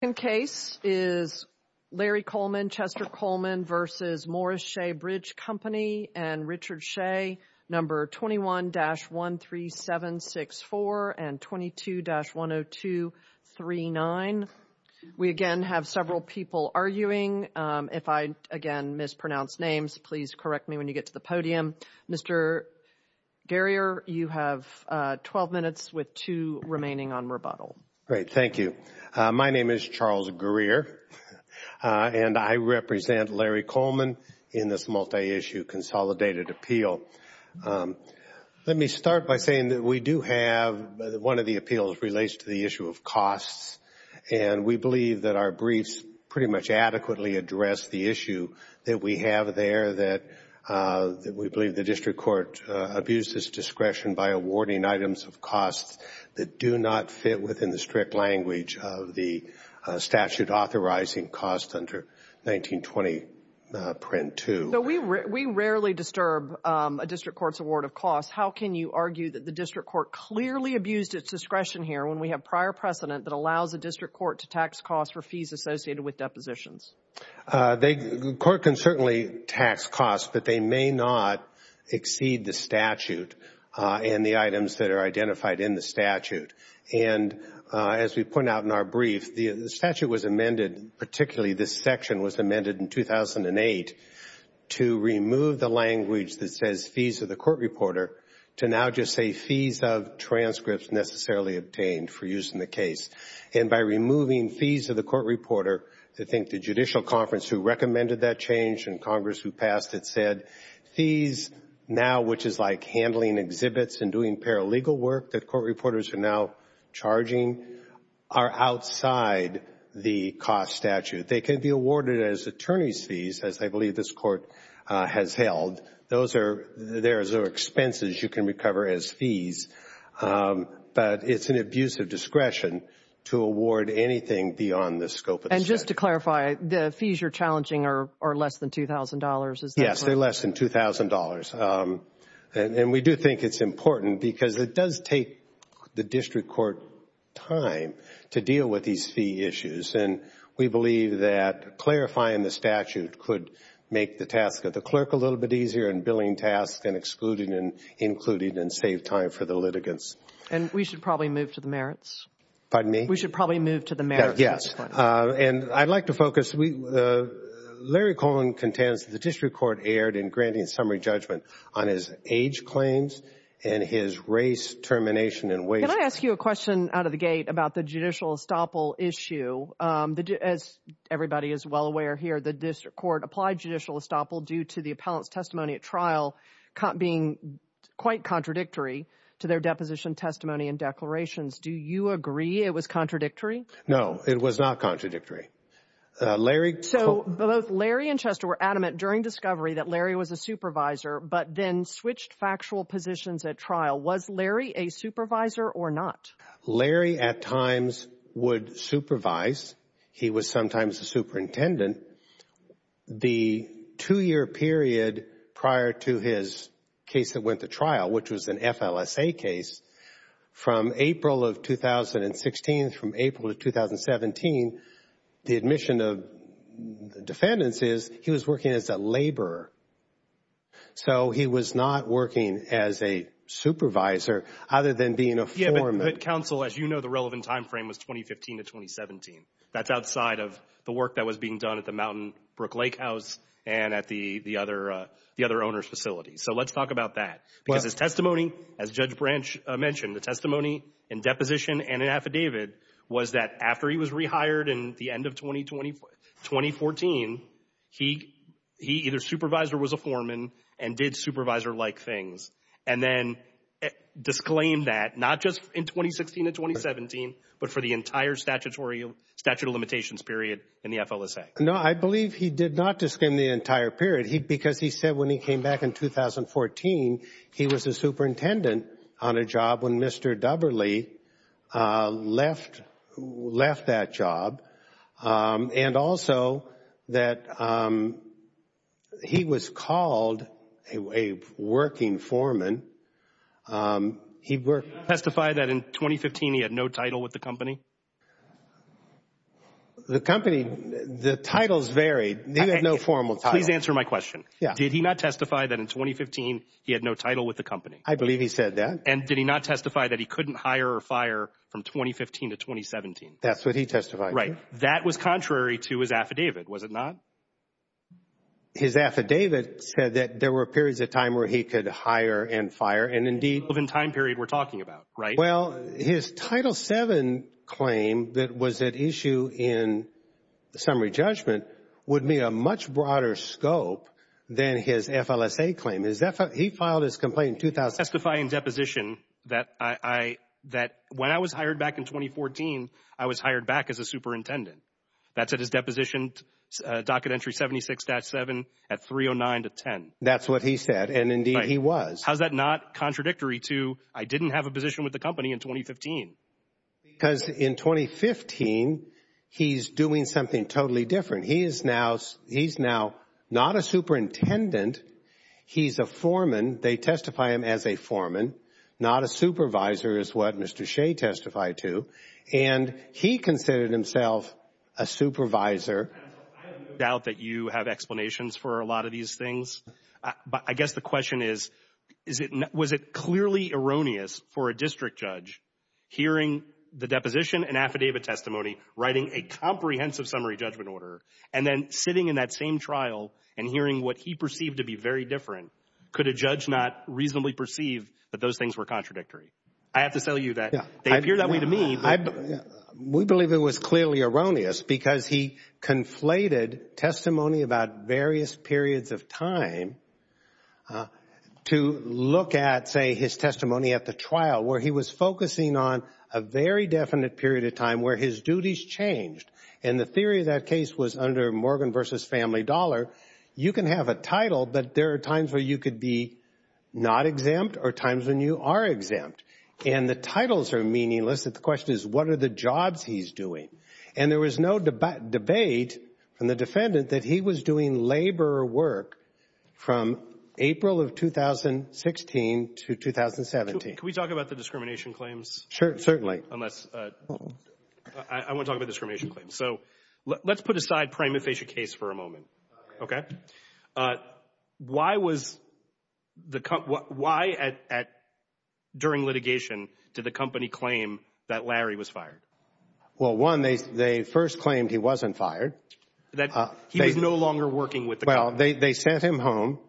The second case is Larry Coleman, Chester Coleman v. Morris-Shea Bridge Company and Richard Shea, No. 21-13764 and 22-10239. We again have several people arguing. If I, again, mispronounce names, please correct me when you get to the podium. Mr. Garrier, you have 12 minutes with two remaining on rebuttal. Great. Thank you. My name is Charles Garrier, and I represent Larry Coleman in this multi-issue consolidated appeal. Let me start by saying that we do have one of the appeals that relates to the issue of costs, and we believe that our briefs pretty much adequately address the issue that we have there, that we believe the district court abused its discretion by awarding items of costs that do not fit within the strict language of the statute authorizing costs under 1920 print 2. We rarely disturb a district court's award of costs. How can you argue that the district court clearly abused its discretion here when we have prior precedent that allows a district court to tax costs for fees associated with depositions? The court can certainly tax costs, but they may not exceed the statute and the items that are identified in the statute. And as we point out in our brief, the statute was amended, particularly this section was amended in 2008 to remove the language that says fees of the court reporter to now just say fees of transcripts necessarily obtained for use in the case. And by removing fees of the court reporter, I think the judicial conference who recommended that change and Congress who passed it said, fees now, which is like handling exhibits and doing paralegal work that court reporters are now charging, are outside the cost statute. They can be awarded as attorney's fees, as I believe this court has held. Those are expenses you can recover as fees, but it's an abuse of discretion. to award anything beyond the scope of the statute. And just to clarify, the fees you're challenging are less than $2,000? Yes, they're less than $2,000. And we do think it's important because it does take the district court time to deal with these fee issues. And we believe that clarifying the statute could make the task of the clerk a little bit easier and billing tasks and excluding and including and save time for the litigants. And we should probably move to the merits. Pardon me? We should probably move to the merits. Yes. And I'd like to focus. Larry Cohen contends that the district court erred in granting summary judgment on his age claims and his race, termination, and wage claims. Can I ask you a question out of the gate about the judicial estoppel issue? As everybody is well aware here, the district court applied judicial estoppel due to the appellant's testimony at trial being quite contradictory to their deposition testimony and declarations. Do you agree it was contradictory? No, it was not contradictory. So both Larry and Chester were adamant during discovery that Larry was a supervisor but then switched factual positions at trial. Was Larry a supervisor or not? Larry at times would supervise. He was sometimes the superintendent. The two-year period prior to his case that went to trial, which was an FLSA case, from April of 2016, from April of 2017, the admission of defendants is he was working as a laborer. So he was not working as a supervisor other than being a foreman. Yes, but counsel, as you know, the relevant time frame was 2015 to 2017. That's outside of the work that was being done at the Mountain Brook Lake House and at the other owner's facility. So let's talk about that because his testimony, as Judge Branch mentioned, the testimony in deposition and in affidavit was that after he was rehired in the end of 2014, he either supervised or was a foreman and did supervisor-like things and then disclaimed that not just in 2016 and 2017 but for the entire statute of limitations period in the FLSA. No, I believe he did not disclaim the entire period because he said when he came back in 2014, he was a superintendent on a job when Mr. Duberley left that job and also that he was called a working foreman. Did he testify that in 2015 he had no title with the company? The company, the titles varied. He had no formal title. Please answer my question. Did he not testify that in 2015 he had no title with the company? I believe he said that. And did he not testify that he couldn't hire or fire from 2015 to 2017? That's what he testified. Right. That was contrary to his affidavit, was it not? His affidavit said that there were periods of time where he could hire and fire and indeed The relevant time period we're talking about, right? Well, his Title VII claim that was at issue in the summary judgment would meet a much broader scope than his FLSA claim. He filed his complaint in 2016. that when I was hired back in 2014, I was hired back as a superintendent. That's at his deposition, Docket Entry 76-7 at 309-10. That's what he said and indeed he was. How's that not contradictory to I didn't have a position with the company in 2015? Because in 2015, he's doing something totally different. He's now not a superintendent. He's a foreman. They testify him as a foreman. Not a supervisor is what Mr. Shea testified to. And he considered himself a supervisor. I have no doubt that you have explanations for a lot of these things. But I guess the question is, was it clearly erroneous for a district judge hearing the deposition and affidavit testimony, writing a comprehensive summary judgment order, and then sitting in that same trial and hearing what he perceived to be very different, could a judge not reasonably perceive that those things were contradictory? I have to tell you that they appear that way to me. We believe it was clearly erroneous because he conflated testimony about various periods of time to look at, say, his testimony at the trial where he was focusing on a very definite period of time where his duties changed. And the theory of that case was under Morgan v. Family Dollar. You can have a title, but there are times where you could be not exempt or times when you are exempt. And the titles are meaningless. The question is, what are the jobs he's doing? And there was no debate from the defendant that he was doing labor work from April of 2016 to 2017. Can we talk about the discrimination claims? Sure, certainly. I want to talk about discrimination claims. So let's put aside prima facie case for a moment. Okay. Why was the company, why during litigation did the company claim that Larry was fired? Well, one, they first claimed he wasn't fired. That he was no longer working with the company. Well, they sent him home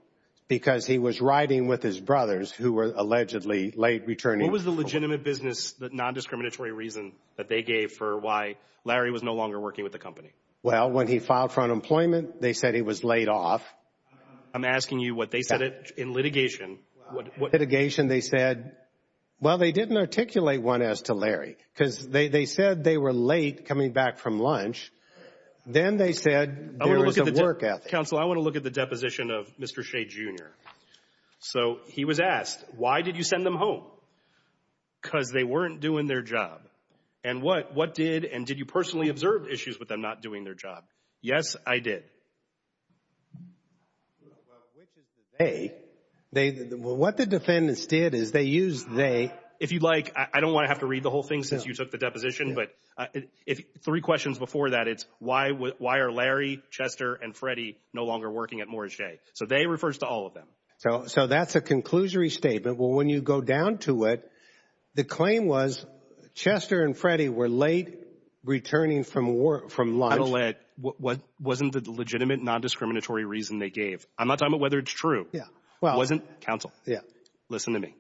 because he was riding with his brothers who were allegedly late returning. What was the legitimate business, the nondiscriminatory reason that they gave for why Larry was no longer working with the company? Well, when he filed for unemployment, they said he was laid off. I'm asking you what they said in litigation. In litigation, they said, well, they didn't articulate one as to Larry because they said they were late coming back from lunch. Then they said there was a work ethic. Counsel, I want to look at the deposition of Mr. Shea, Jr. So he was asked, why did you send them home? Because they weren't doing their job. And what did, and did you personally observe issues with them not doing their job? Yes, I did. Well, which is the they. What the defendants did is they used they. If you'd like, I don't want to have to read the whole thing since you took the deposition. But three questions before that, it's why are Larry, Chester, and Freddie no longer working at Moorish J. So they refers to all of them. So that's a conclusory statement. Well, when you go down to it, the claim was Chester and Freddie were late returning from lunch. What wasn't the legitimate non-discriminatory reason they gave? I'm not talking about whether it's true. Yeah. Well, wasn't counsel. Yeah. Listen to me.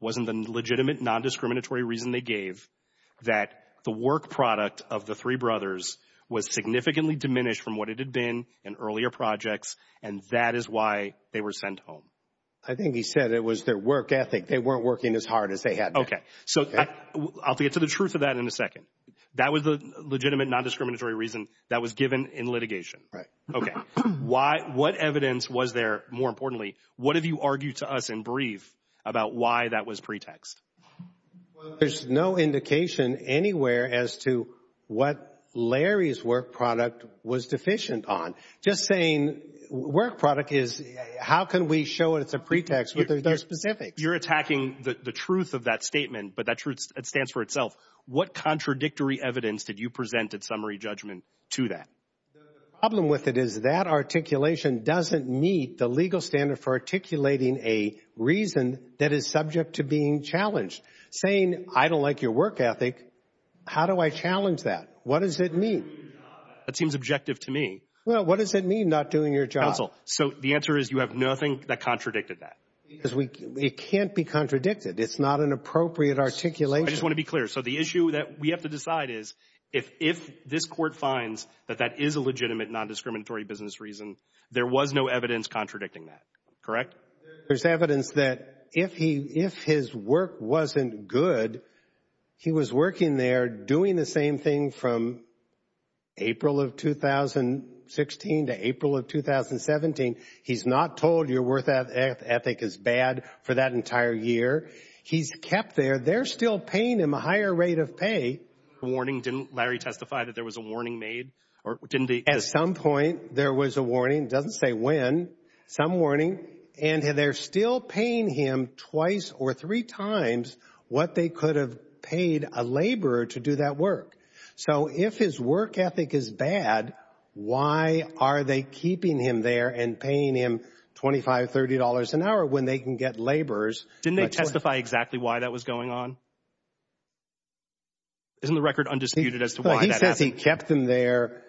Wasn't the legitimate non-discriminatory reason they gave that the work product of the three brothers was significantly diminished from what it had been in earlier projects? And that is why they were sent home. I think he said it was their work ethic. They weren't working as hard as they had. Okay. So I'll get to the truth of that in a second. That was the legitimate non-discriminatory reason that was given in litigation. Right. Okay. Why? What evidence was there? More importantly, what have you argued to us in brief about why that was pretext? Well, there's no indication anywhere as to what Larry's work product was deficient on. Just saying work product is how can we show it's a pretext with their specifics? You're attacking the truth of that statement, but that truth stands for itself. What contradictory evidence did you present at summary judgment to that? The problem with it is that articulation doesn't meet the legal standard for articulating a reason that is subject to being challenged. Saying I don't like your work ethic, how do I challenge that? What does it mean? That seems objective to me. Well, what does it mean not doing your job? Counsel, so the answer is you have nothing that contradicted that. It can't be contradicted. It's not an appropriate articulation. I just want to be clear. So the issue that we have to decide is if this court finds that that is a legitimate nondiscriminatory business reason, there was no evidence contradicting that. Correct? There's evidence that if his work wasn't good, he was working there doing the same thing from April of 2016 to April of 2017. He's not told your work ethic is bad for that entire year. He's kept there. They're still paying him a higher rate of pay. The warning, didn't Larry testify that there was a warning made? At some point, there was a warning. It doesn't say when. Some warning. And they're still paying him twice or three times what they could have paid a laborer to do that work. So if his work ethic is bad, why are they keeping him there and paying him $25, $30 an hour when they can get laborers? Didn't they testify exactly why that was going on? Isn't the record undisputed as to why that happened? He says he kept them there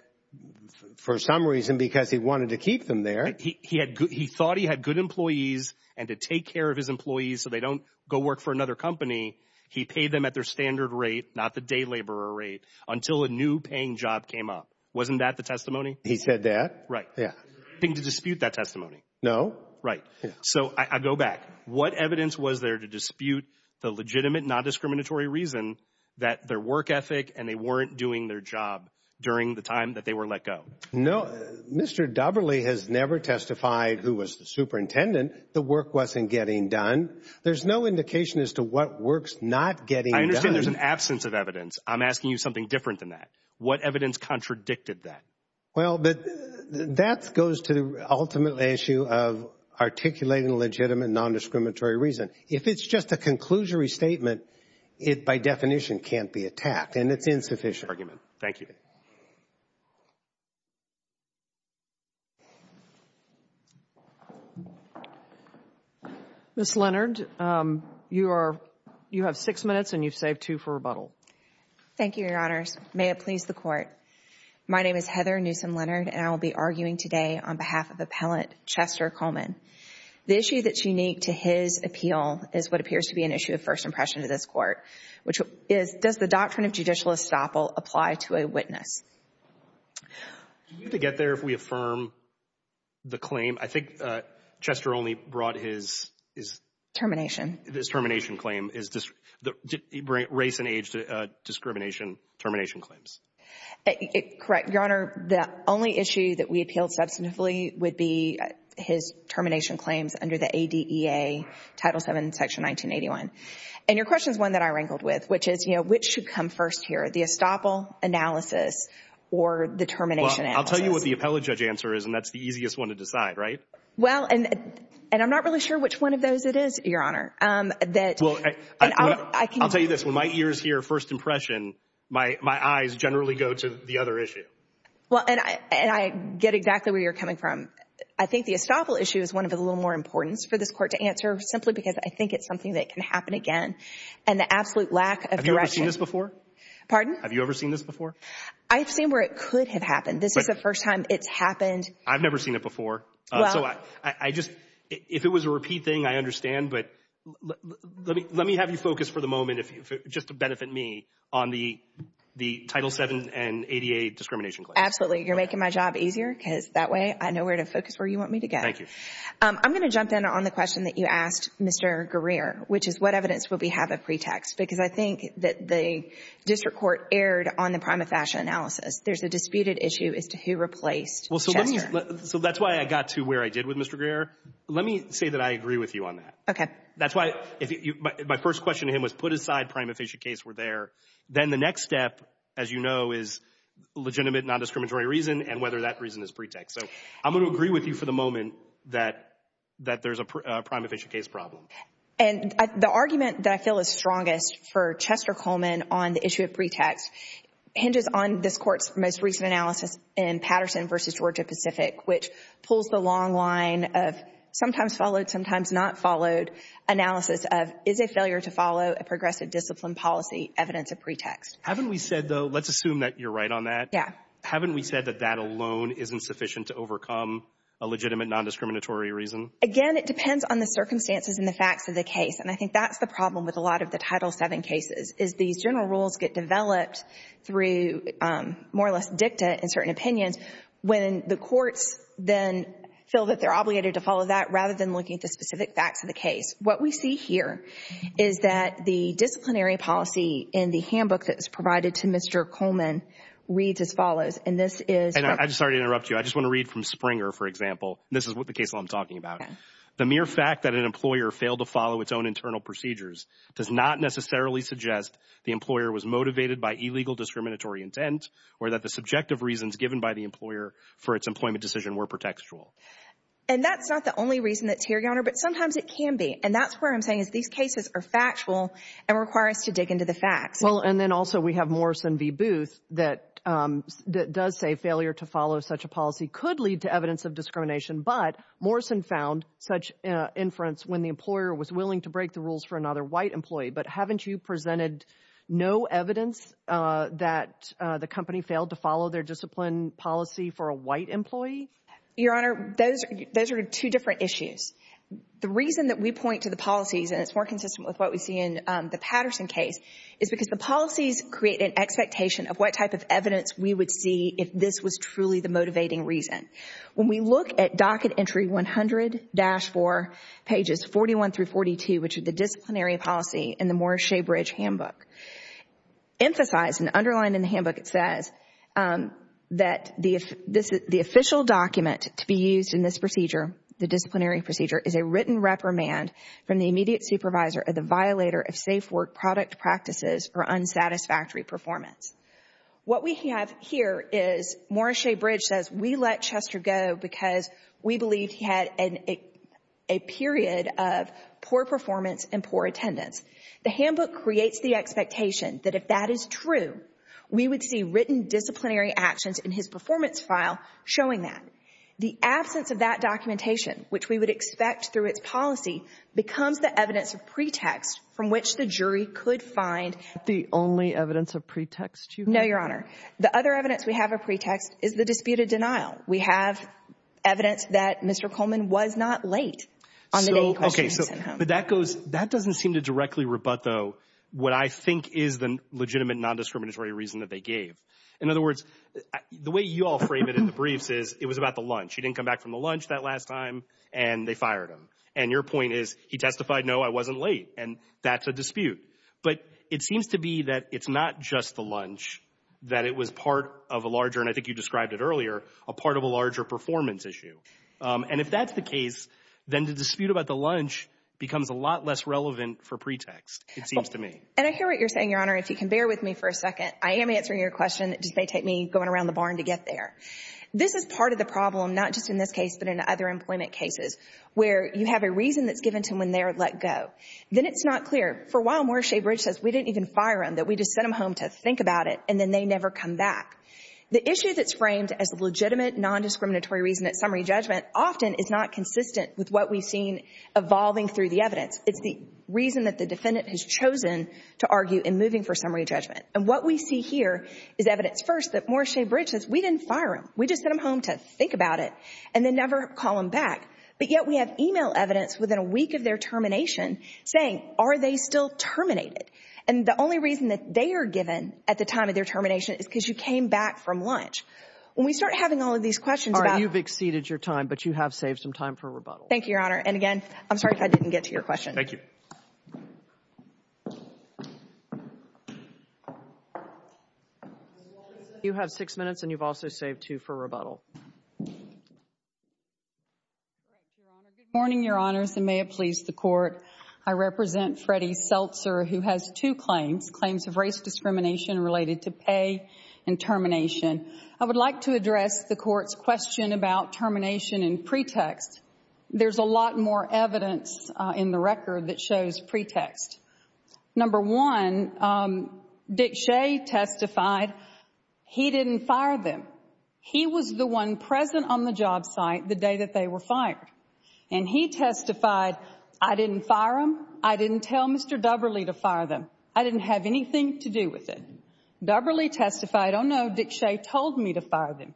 for some reason because he wanted to keep them there. He thought he had good employees and to take care of his employees so they don't go work for another company, he paid them at their standard rate, not the day laborer rate, until a new paying job came up. Wasn't that the testimony? He said that. Right. Didn't he dispute that testimony? No. Right. So I go back. What evidence was there to dispute the legitimate, non-discriminatory reason that their work ethic and they weren't doing their job during the time that they were let go? No. Mr. Doberle has never testified who was the superintendent. The work wasn't getting done. There's no indication as to what work's not getting done. I understand there's an absence of evidence. I'm asking you something different than that. What evidence contradicted that? Well, that goes to the ultimate issue of articulating a legitimate, non-discriminatory reason. If it's just a conclusory statement, it by definition can't be attacked and it's insufficient. Thank you. Ms. Leonard, you have six minutes and you've saved two for rebuttal. Thank you, Your Honors. May it please the Court. My name is Heather Newsom Leonard, and I will be arguing today on behalf of Appellant Chester Coleman. The issue that's unique to his appeal is what appears to be an issue of first impression to this Court, which is does the doctrine of judicial estoppel apply to a witness? Do we have to get there if we affirm the claim? I think Chester only brought his – Termination. His termination claim, race and age discrimination termination claims. Correct, Your Honor. The only issue that we appealed substantively would be his termination claims under the ADEA, Title VII, Section 1981. And your question is one that I wrangled with, which is, you know, which should come first here, the estoppel analysis or the termination analysis? Well, I'll tell you what the appellate judge answer is, and that's the easiest one to decide, right? Well, and I'm not really sure which one of those it is, Your Honor. I'll tell you this, when my ears hear first impression, my eyes generally go to the other issue. Well, and I get exactly where you're coming from. I think the estoppel issue is one of a little more importance for this Court to answer simply because I think it's something that can happen again. And the absolute lack of direction. Have you ever seen this before? Pardon? Have you ever seen this before? I've seen where it could have happened. This is the first time it's happened. I've never seen it before. So I just, if it was a repeat thing, I understand. But let me have you focus for the moment, just to benefit me, on the Title VII and ADA discrimination claim. Absolutely. You're making my job easier because that way I know where to focus where you want me to go. Thank you. I'm going to jump in on the question that you asked, Mr. Greer, which is what evidence will we have of pretext? Because I think that the district court erred on the prima facie analysis. There's a disputed issue as to who replaced Chester. So that's why I got to where I did with Mr. Greer. Let me say that I agree with you on that. Okay. That's why my first question to him was put aside prima facie case were there. Then the next step, as you know, is legitimate non-discriminatory reason and whether that reason is pretext. So I'm going to agree with you for the moment that there's a prima facie case problem. And the argument that I feel is strongest for Chester Coleman on the issue of pretext hinges on this court's most recent analysis in Patterson v. Georgia-Pacific, which pulls the long line of sometimes followed, sometimes not followed analysis of is a failure to follow a progressive discipline policy evidence of pretext. Haven't we said, though, let's assume that you're right on that. Yeah. Haven't we said that that alone isn't sufficient to overcome a legitimate non-discriminatory reason? Again, it depends on the circumstances and the facts of the case. And I think that's the problem with a lot of the Title VII cases is these general rules get developed through more or less dicta in certain opinions when the courts then feel that they're obligated to follow that rather than looking at the specific facts of the case. What we see here is that the disciplinary policy in the handbook that was provided to Mr. Coleman reads as follows. And I'm sorry to interrupt you. I just want to read from Springer, for example. This is the case I'm talking about. The mere fact that an employer failed to follow its own internal procedures does not necessarily suggest the employer was motivated by illegal discriminatory intent or that the subjective reasons given by the employer for its employment decision were pretextual. And that's not the only reason that's here, Your Honor, but sometimes it can be. And that's where I'm saying is these cases are factual and require us to dig into the facts. Well, and then also we have Morrison v. Booth that does say failure to follow such a policy could lead to evidence of discrimination. But Morrison found such inference when the employer was willing to break the rules for another white employee. But haven't you presented no evidence that the company failed to follow their discipline policy for a white employee? Your Honor, those are two different issues. The reason that we point to the policies, and it's more consistent with what we see in the Patterson case, is because the policies create an expectation of what type of evidence we would see if this was truly the motivating reason. When we look at docket entry 100-4, pages 41 through 42, which are the disciplinary policy in the Morris-Shabridge handbook, emphasize and underline in the handbook it says that the official document to be used in this procedure, the disciplinary procedure, is a written reprimand from the immediate supervisor of the violator of safe work product practices or unsatisfactory performance. What we have here is Morris-Shabridge says we let Chester go because we believed he had a period of poor performance and poor attendance. The handbook creates the expectation that if that is true, we would see written disciplinary actions in his performance file showing that. The absence of that documentation, which we would expect through its policy, becomes the evidence of pretext from which the jury could find the only evidence of pretext. No, Your Honor. The other evidence we have of pretext is the disputed denial. We have evidence that Mr. Coleman was not late on the name questions. Okay. But that doesn't seem to directly rebut, though, what I think is the legitimate nondiscriminatory reason that they gave. In other words, the way you all frame it in the briefs is it was about the lunch. He didn't come back from the lunch that last time, and they fired him. And your point is he testified, no, I wasn't late, and that's a dispute. But it seems to be that it's not just the lunch, that it was part of a larger, and I think you described it earlier, a part of a larger performance issue. And if that's the case, then the dispute about the lunch becomes a lot less relevant for pretext, it seems to me. And I hear what you're saying, Your Honor, if you can bear with me for a second. I am answering your question. It just may take me going around the barn to get there. This is part of the problem, not just in this case but in other employment cases, where you have a reason that's given to them when they are let go. Then it's not clear. For a while, Morrissey Bridge says we didn't even fire him, that we just sent him home to think about it, and then they never come back. The issue that's framed as a legitimate, nondiscriminatory reason at summary judgment often is not consistent with what we've seen evolving through the evidence. It's the reason that the defendant has chosen to argue in moving for summary judgment. And what we see here is evidence, first, that Morrissey Bridge says we didn't fire him, we just sent him home to think about it, and then never call him back. But yet we have email evidence within a week of their termination saying, are they still terminated? And the only reason that they are given at the time of their termination is because you came back from lunch. When we start having all of these questions about – All right. You've exceeded your time, but you have saved some time for rebuttal. Thank you, Your Honor. And, again, I'm sorry if I didn't get to your question. Thank you. Ms. Wallace, you have six minutes and you've also saved two for rebuttal. Good morning, Your Honors, and may it please the Court. I represent Freddie Seltzer, who has two claims, claims of race discrimination related to pay and termination. I would like to address the Court's question about termination and pretext. There's a lot more evidence in the record that shows pretext. Number one, Dick Shea testified he didn't fire them. He was the one present on the job site the day that they were fired. And he testified, I didn't fire them. I didn't tell Mr. Dubberley to fire them. I didn't have anything to do with it. Dubberley testified, oh, no, Dick Shea told me to fire them.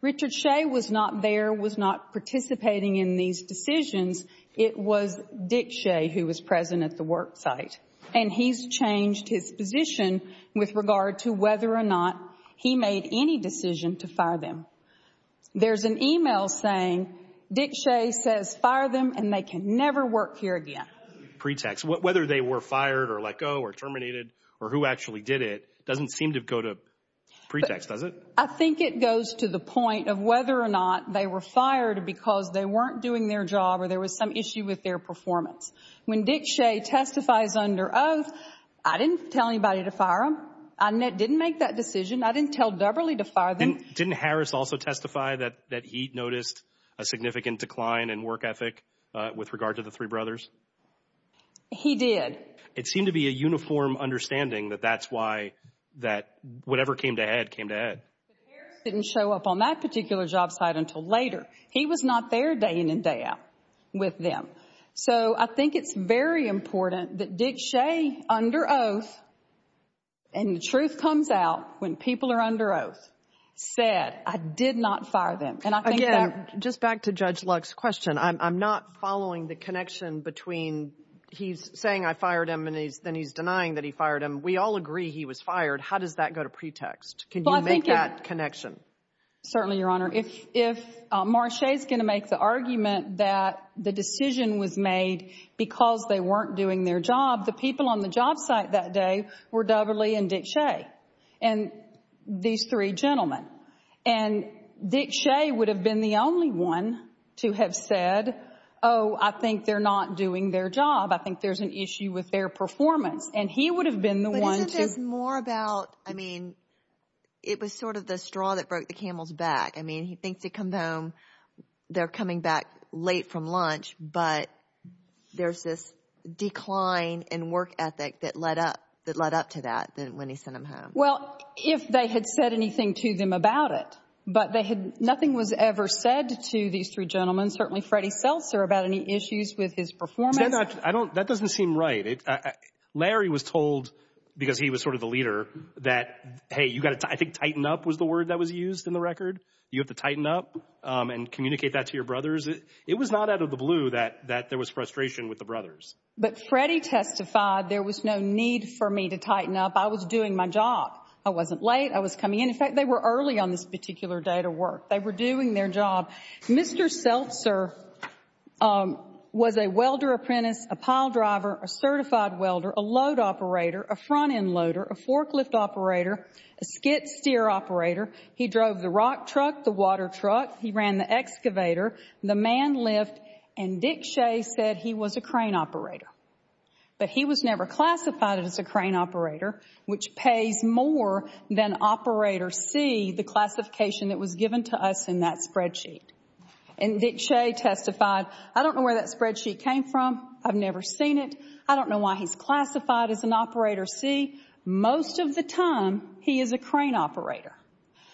Richard Shea was not there, was not participating in these decisions. It was Dick Shea who was present at the work site. And he's changed his position with regard to whether or not he made any decision to fire them. There's an email saying Dick Shea says fire them and they can never work here again. Pretext, whether they were fired or let go or terminated or who actually did it doesn't seem to go to pretext, does it? I think it goes to the point of whether or not they were fired because they weren't doing their job or there was some issue with their performance. When Dick Shea testifies under oath, I didn't tell anybody to fire them. I didn't make that decision. I didn't tell Dubberley to fire them. And didn't Harris also testify that he noticed a significant decline in work ethic with regard to the three brothers? He did. It seemed to be a uniform understanding that that's why that whatever came to head came to head. Harris didn't show up on that particular job site until later. He was not there day in and day out with them. So I think it's very important that Dick Shea, under oath, and the truth comes out when people are under oath, said I did not fire them. Again, just back to Judge Luck's question, I'm not following the connection between he's saying I fired him and then he's denying that he fired him. We all agree he was fired. How does that go to pretext? Can you make that connection? Certainly, Your Honor. If Marcia is going to make the argument that the decision was made because they weren't doing their job, the people on the job site that day were Dubberley and Dick Shea and these three gentlemen. And Dick Shea would have been the only one to have said, oh, I think they're not doing their job. I think there's an issue with their performance. And he would have been the one to – It was sort of the straw that broke the camel's back. I mean, he thinks they come home, they're coming back late from lunch, but there's this decline in work ethic that led up to that when he sent them home. Well, if they had said anything to them about it, but nothing was ever said to these three gentlemen, certainly Freddie Seltzer, about any issues with his performance. That doesn't seem right. Larry was told, because he was sort of the leader, that, hey, you've got to – I think tighten up was the word that was used in the record. You have to tighten up and communicate that to your brothers. It was not out of the blue that there was frustration with the brothers. But Freddie testified there was no need for me to tighten up. I was doing my job. I wasn't late. I was coming in. In fact, they were early on this particular day to work. They were doing their job. Mr. Seltzer was a welder-apprentice, a pile driver, a certified welder, a load operator, a front-end loader, a forklift operator, a skid-steer operator. He drove the rock truck, the water truck. He ran the excavator, the man lift. And Dick Shea said he was a crane operator. But he was never classified as a crane operator, which pays more than Operator C, the classification that was given to us in that spreadsheet. And Dick Shea testified, I don't know where that spreadsheet came from. I've never seen it. I don't know why he's classified as an Operator C. Most of the time, he is a crane operator.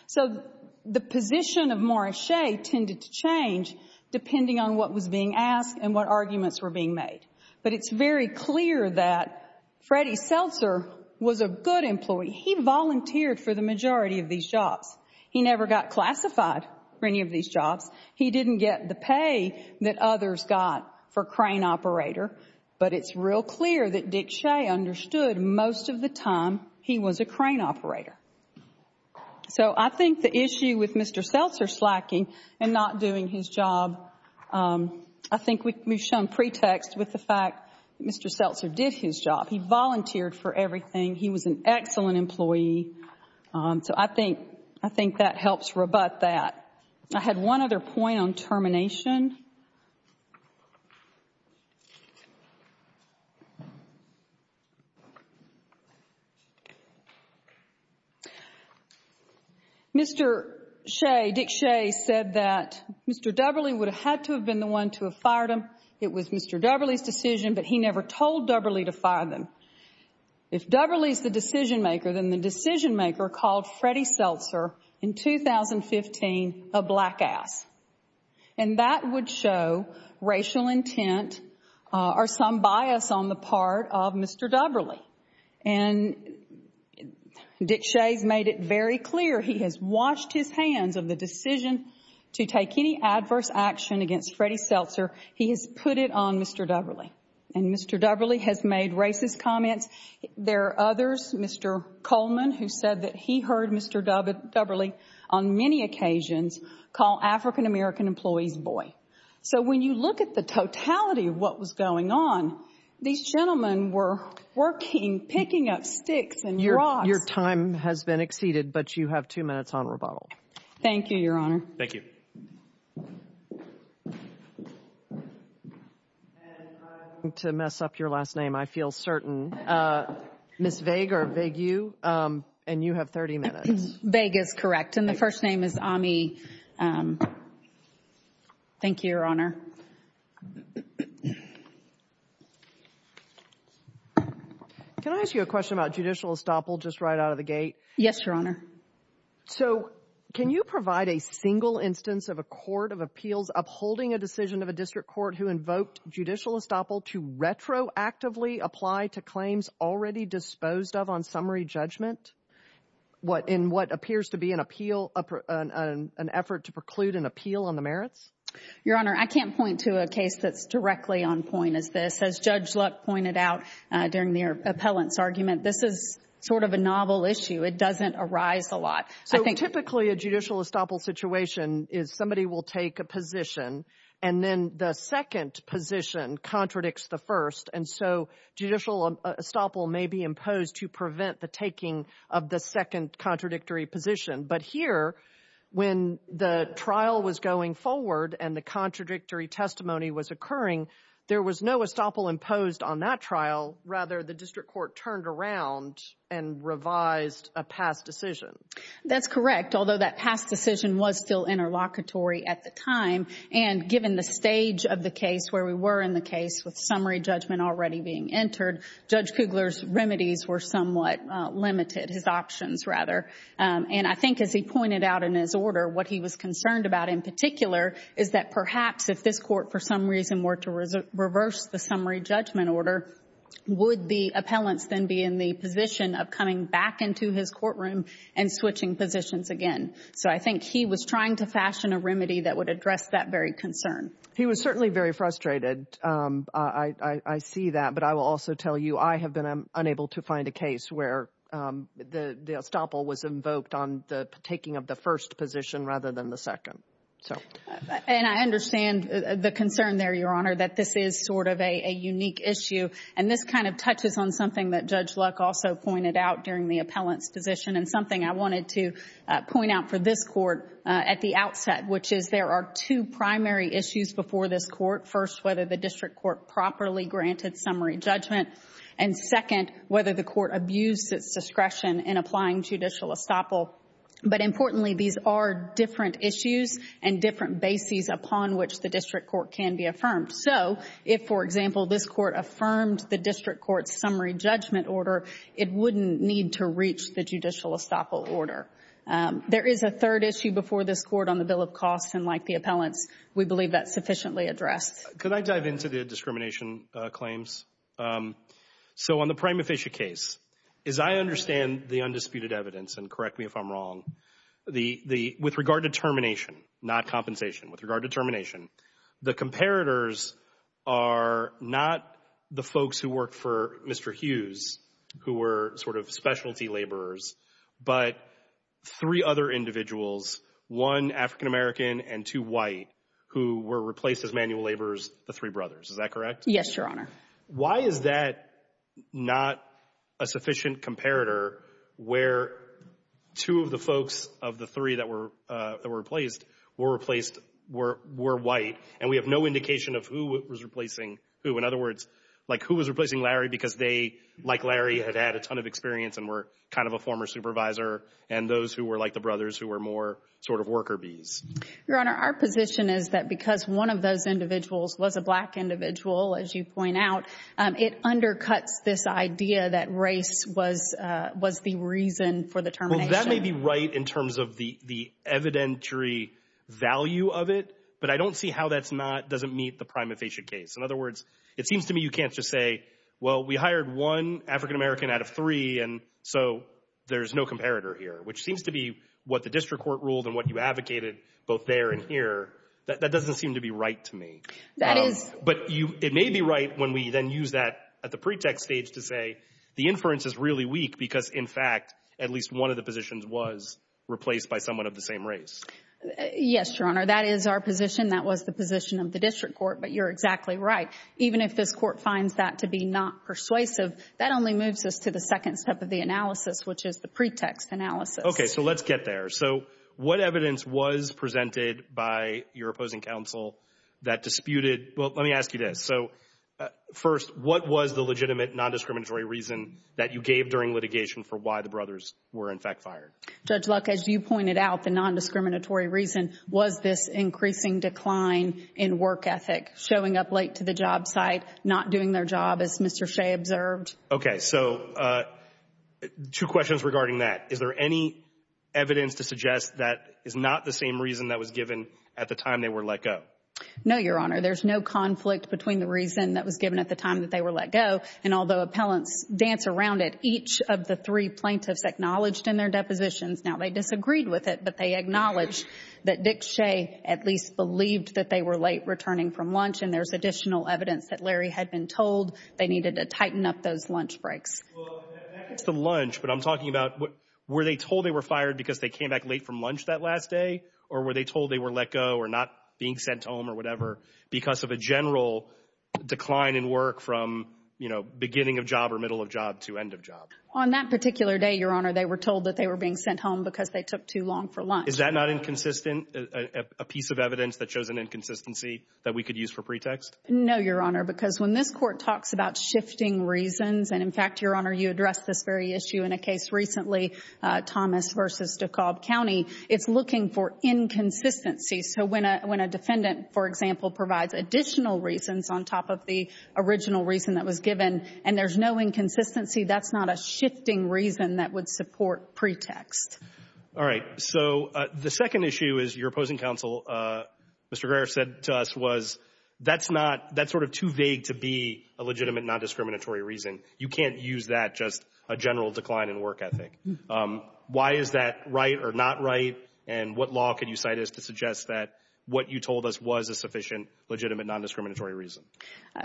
So the position of Morris Shea tended to change depending on what was being asked and what arguments were being made. But it's very clear that Freddy Seltzer was a good employee. He volunteered for the majority of these jobs. He never got classified for any of these jobs. He didn't get the pay that others got for crane operator. But it's real clear that Dick Shea understood most of the time he was a crane operator. So I think the issue with Mr. Seltzer slacking and not doing his job, I think we've shown pretext with the fact that Mr. Seltzer did his job. He volunteered for everything. He was an excellent employee. So I think that helps rebut that. I had one other point on termination. Mr. Shea, Dick Shea, said that Mr. Dubberley would have had to have been the one to have fired him. It was Mr. Dubberley's decision, but he never told Dubberley to fire them. If Dubberley's the decision-maker, then the decision-maker called Freddy Seltzer, in 2015, a black ass. And that would show racial intent or some bias on the part of Mr. Dubberley. And Dick Shea's made it very clear he has washed his hands of the decision to take any adverse action against Freddy Seltzer. He has put it on Mr. Dubberley. And Mr. Dubberley has made racist comments. There are others, Mr. Coleman, who said that he heard Mr. Dubberley on many occasions call African-American employees boy. So when you look at the totality of what was going on, these gentlemen were working, picking up sticks and rocks. Your time has been exceeded, but you have two minutes on rebuttal. Thank you, Your Honor. Thank you. And I don't want to mess up your last name, I feel certain. Ms. Vague, or Vague-U, and you have 30 minutes. Vague is correct, and the first name is Ami. Thank you, Your Honor. Can I ask you a question about judicial estoppel just right out of the gate? Yes, Your Honor. So can you provide a single instance of a court of appeals upholding a decision of a district court who invoked judicial estoppel to retroactively apply to claims already disposed of on summary judgment? In what appears to be an appeal, an effort to preclude an appeal on the merits? Your Honor, I can't point to a case that's directly on point as this. As Judge Luck pointed out during the appellant's argument, this is sort of a novel issue. It doesn't arise a lot. So typically a judicial estoppel situation is somebody will take a position, and then the second position contradicts the first, and so judicial estoppel may be imposed to prevent the taking of the second contradictory position. But here, when the trial was going forward and the contradictory testimony was occurring, there was no estoppel imposed on that trial. Rather, the district court turned around and revised a past decision. That's correct, although that past decision was still interlocutory at the time. And given the stage of the case where we were in the case with summary judgment already being entered, Judge Kugler's remedies were somewhat limited, his options rather. And I think as he pointed out in his order, what he was concerned about in particular is that perhaps if this court for some reason were to reverse the summary judgment order, would the appellants then be in the position of coming back into his courtroom and switching positions again? So I think he was trying to fashion a remedy that would address that very concern. He was certainly very frustrated. I see that, but I will also tell you I have been unable to find a case where the estoppel was invoked on the taking of the first position rather than the second. And I understand the concern there, Your Honor, that this is sort of a unique issue. And this kind of touches on something that Judge Luck also pointed out during the appellant's position and something I wanted to point out for this court at the outset, which is there are two primary issues before this court. First, whether the district court properly granted summary judgment. And second, whether the court abused its discretion in applying judicial estoppel. But importantly, these are different issues and different bases upon which the district court can be affirmed. So if, for example, this court affirmed the district court's summary judgment order, it wouldn't need to reach the judicial estoppel order. There is a third issue before this court on the bill of costs, and like the appellants, we believe that's sufficiently addressed. Could I dive into the discrimination claims? So on the Prima Fischa case, as I understand the undisputed evidence, and correct me if I'm wrong, with regard to termination, not compensation, with regard to termination, the comparators are not the folks who worked for Mr. Hughes, who were sort of specialty laborers, but three other individuals, one African-American and two white, who were replaced as manual laborers, the three brothers. Is that correct? Yes, Your Honor. Why is that not a sufficient comparator where two of the folks of the three that were replaced were white, and we have no indication of who was replacing who? In other words, like who was replacing Larry because they, like Larry, had had a ton of experience and were kind of a former supervisor, and those who were like the brothers who were more sort of worker bees? Your Honor, our position is that because one of those individuals was a black individual, as you point out, it undercuts this idea that race was the reason for the termination. Well, that may be right in terms of the evidentiary value of it, but I don't see how that doesn't meet the Prima Fischa case. In other words, it seems to me you can't just say, well, we hired one African-American out of three, and so there's no comparator here, which seems to be what the district court ruled and what you advocated both there and here. That doesn't seem to be right to me. That is— But it may be right when we then use that at the pretext stage to say the inference is really weak because, in fact, at least one of the positions was replaced by someone of the same race. Yes, Your Honor, that is our position. That was the position of the district court, but you're exactly right. Even if this court finds that to be not persuasive, that only moves us to the second step of the analysis, which is the pretext analysis. Okay, so let's get there. So what evidence was presented by your opposing counsel that disputed—well, let me ask you this. So, first, what was the legitimate nondiscriminatory reason that you gave during litigation for why the brothers were, in fact, fired? Judge Luck, as you pointed out, the nondiscriminatory reason was this increasing decline in work ethic, showing up late to the job site, not doing their job, as Mr. Shea observed. Okay, so two questions regarding that. Is there any evidence to suggest that is not the same reason that was given at the time they were let go? No, Your Honor. There's no conflict between the reason that was given at the time that they were let go, and although appellants dance around it, each of the three plaintiffs acknowledged in their depositions. Now, they disagreed with it, but they acknowledged that Dick Shea at least believed that they were late returning from lunch, and there's additional evidence that Larry had been told they needed to tighten up those lunch breaks. Well, that gets to lunch, but I'm talking about were they told they were fired because they came back late from lunch that last day, or were they told they were let go or not being sent home or whatever because of a general decline in work from, you know, beginning of job or middle of job to end of job? On that particular day, Your Honor, they were told that they were being sent home because they took too long for lunch. Is that not inconsistent, a piece of evidence that shows an inconsistency that we could use for pretext? No, Your Honor, because when this Court talks about shifting reasons, and in fact, Your Honor, you addressed this very issue in a case recently, Thomas v. DeKalb County. It's looking for inconsistency. So when a defendant, for example, provides additional reasons on top of the original reason that was given and there's no inconsistency, that's not a shifting reason that would support pretext. All right. So the second issue is your opposing counsel, Mr. Greer, said to us was that's not – that's sort of too vague to be a legitimate non-discriminatory reason. You can't use that just a general decline in work ethic. Why is that right or not right, and what law can you cite as to suggest that what you told us was a sufficient legitimate non-discriminatory reason?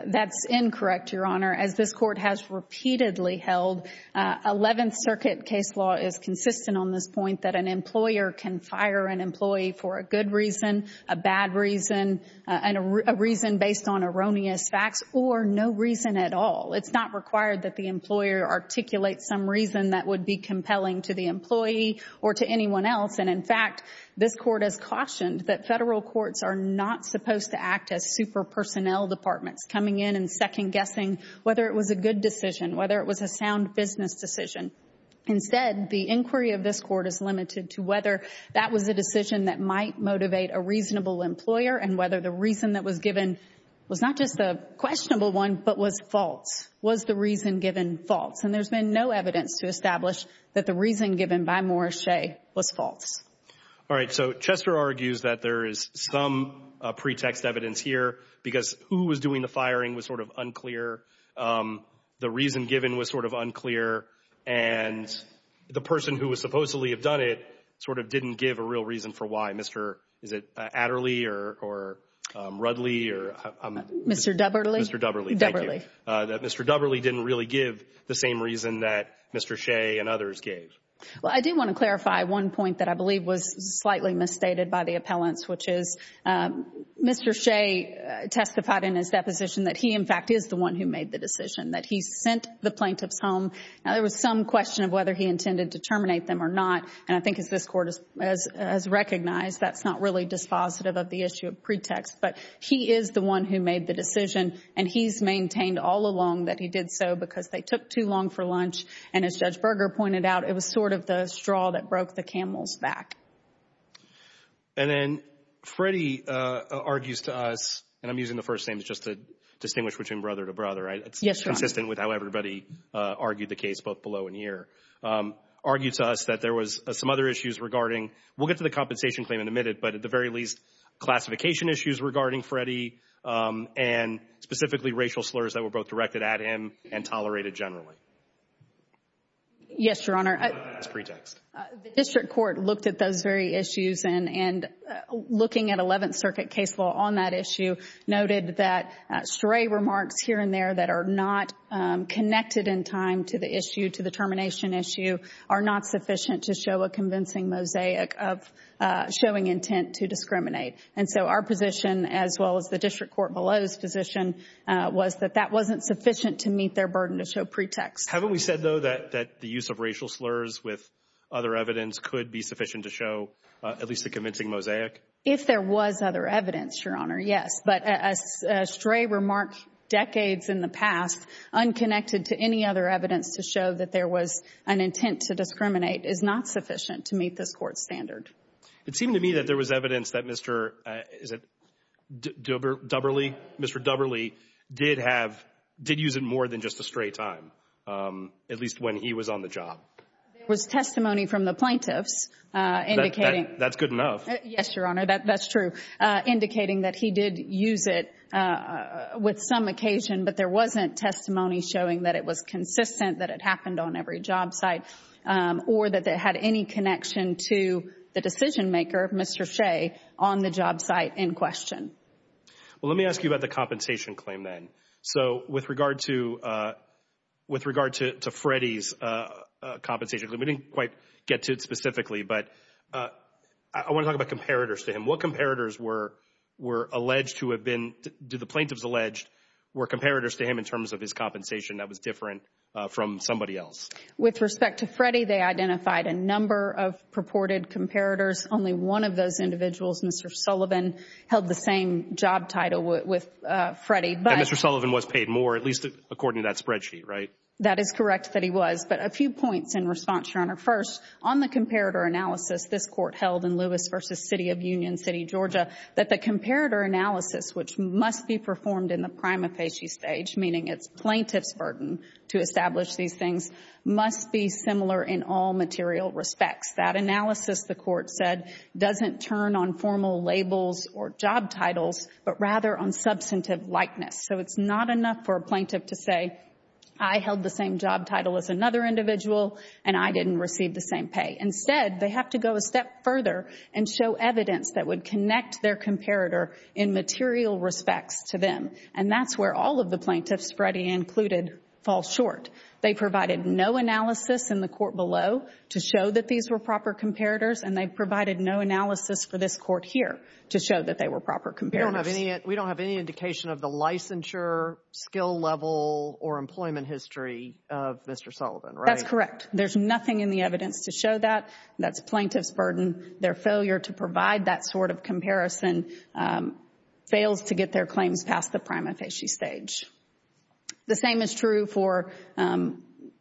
That's incorrect, Your Honor. As this Court has repeatedly held, Eleventh Circuit case law is consistent on this point that an employer can fire an employee for a good reason, a bad reason, a reason based on erroneous facts, or no reason at all. It's not required that the employer articulate some reason that would be compelling to the employee or to anyone else. And, in fact, this Court has cautioned that federal courts are not supposed to act as super-personnel departments, coming in and second-guessing whether it was a good decision, whether it was a sound business decision. Instead, the inquiry of this Court is limited to whether that was a decision that might motivate a reasonable employer and whether the reason that was given was not just a questionable one but was false. Was the reason given false? And there's been no evidence to establish that the reason given by Morris Shea was false. All right. So Chester argues that there is some pretext evidence here because who was doing the firing was sort of unclear. The reason given was sort of unclear. And the person who would supposedly have done it sort of didn't give a real reason for why. Is it Adderley or Rudley? Mr. Dubberley. Mr. Dubberley. Dubberley. That Mr. Dubberley didn't really give the same reason that Mr. Shea and others gave. Well, I do want to clarify one point that I believe was slightly misstated by the appellants, which is Mr. Shea testified in his deposition that he, in fact, is the one who made the decision, that he sent the plaintiffs home. Now, there was some question of whether he intended to terminate them or not. And I think as this Court has recognized, that's not really dispositive of the issue of pretext. But he is the one who made the decision, and he's maintained all along that he did so because they took too long for lunch. And as Judge Berger pointed out, it was sort of the straw that broke the camel's back. And then Freddie argues to us, and I'm using the first names just to distinguish between brother to brother, right? Yes, Your Honor. It's consistent with how everybody argued the case, both below and here. Argued to us that there was some other issues regarding, we'll get to the compensation claim in a minute, but at the very least, classification issues regarding Freddie, and specifically racial slurs that were both directed at him and tolerated generally. Yes, Your Honor. That's pretext. The District Court looked at those very issues, and looking at Eleventh Circuit case law on that issue, noted that stray remarks here and there that are not connected in time to the issue, to the termination issue, are not sufficient to show a convincing mosaic of showing intent to discriminate. And so our position, as well as the District Court below's position, was that that wasn't sufficient to meet their burden to show pretext. Haven't we said, though, that the use of racial slurs with other evidence could be sufficient to show at least a convincing mosaic? If there was other evidence, Your Honor, yes. But a stray remark decades in the past, unconnected to any other evidence to show that there was an intent to discriminate, is not sufficient to meet this Court's standard. It seemed to me that there was evidence that Mr. — is it Dubberley? Mr. Dubberley did have — did use it more than just a stray time, at least when he was on the job. There was testimony from the plaintiffs indicating — That's good enough. Yes, Your Honor, that's true — indicating that he did use it with some occasion, but there wasn't testimony showing that it was consistent, that it happened on every job site, or that it had any connection to the decision-maker, Mr. Shea, on the job site in question. Well, let me ask you about the compensation claim then. So with regard to Freddie's compensation claim, we didn't quite get to it specifically, but I want to talk about comparators to him. What comparators were alleged to have been — did the plaintiffs allege were comparators to him in terms of his compensation that was different from somebody else? With respect to Freddie, they identified a number of purported comparators. Only one of those individuals, Mr. Sullivan, held the same job title with Freddie. But Mr. Sullivan was paid more, at least according to that spreadsheet, right? That is correct that he was. But a few points in response, Your Honor. First, on the comparator analysis this Court held in Lewis v. City of Union City, Georgia, that the comparator analysis, which must be performed in the prima facie stage, meaning it's plaintiff's burden to establish these things, must be similar in all material respects. That analysis, the Court said, doesn't turn on formal labels or job titles, but rather on substantive likeness. So it's not enough for a plaintiff to say, I held the same job title as another individual and I didn't receive the same pay. Instead, they have to go a step further and show evidence that would connect their comparator in material respects to them. And that's where all of the plaintiffs, Freddie included, fall short. They provided no analysis in the Court below to show that these were proper comparators, and they provided no analysis for this Court here to show that they were proper comparators. We don't have any indication of the licensure, skill level, or employment history of Mr. Sullivan, right? That's correct. There's nothing in the evidence to show that. That's plaintiff's burden. Their failure to provide that sort of comparison fails to get their claims past the prima facie stage. The same is true for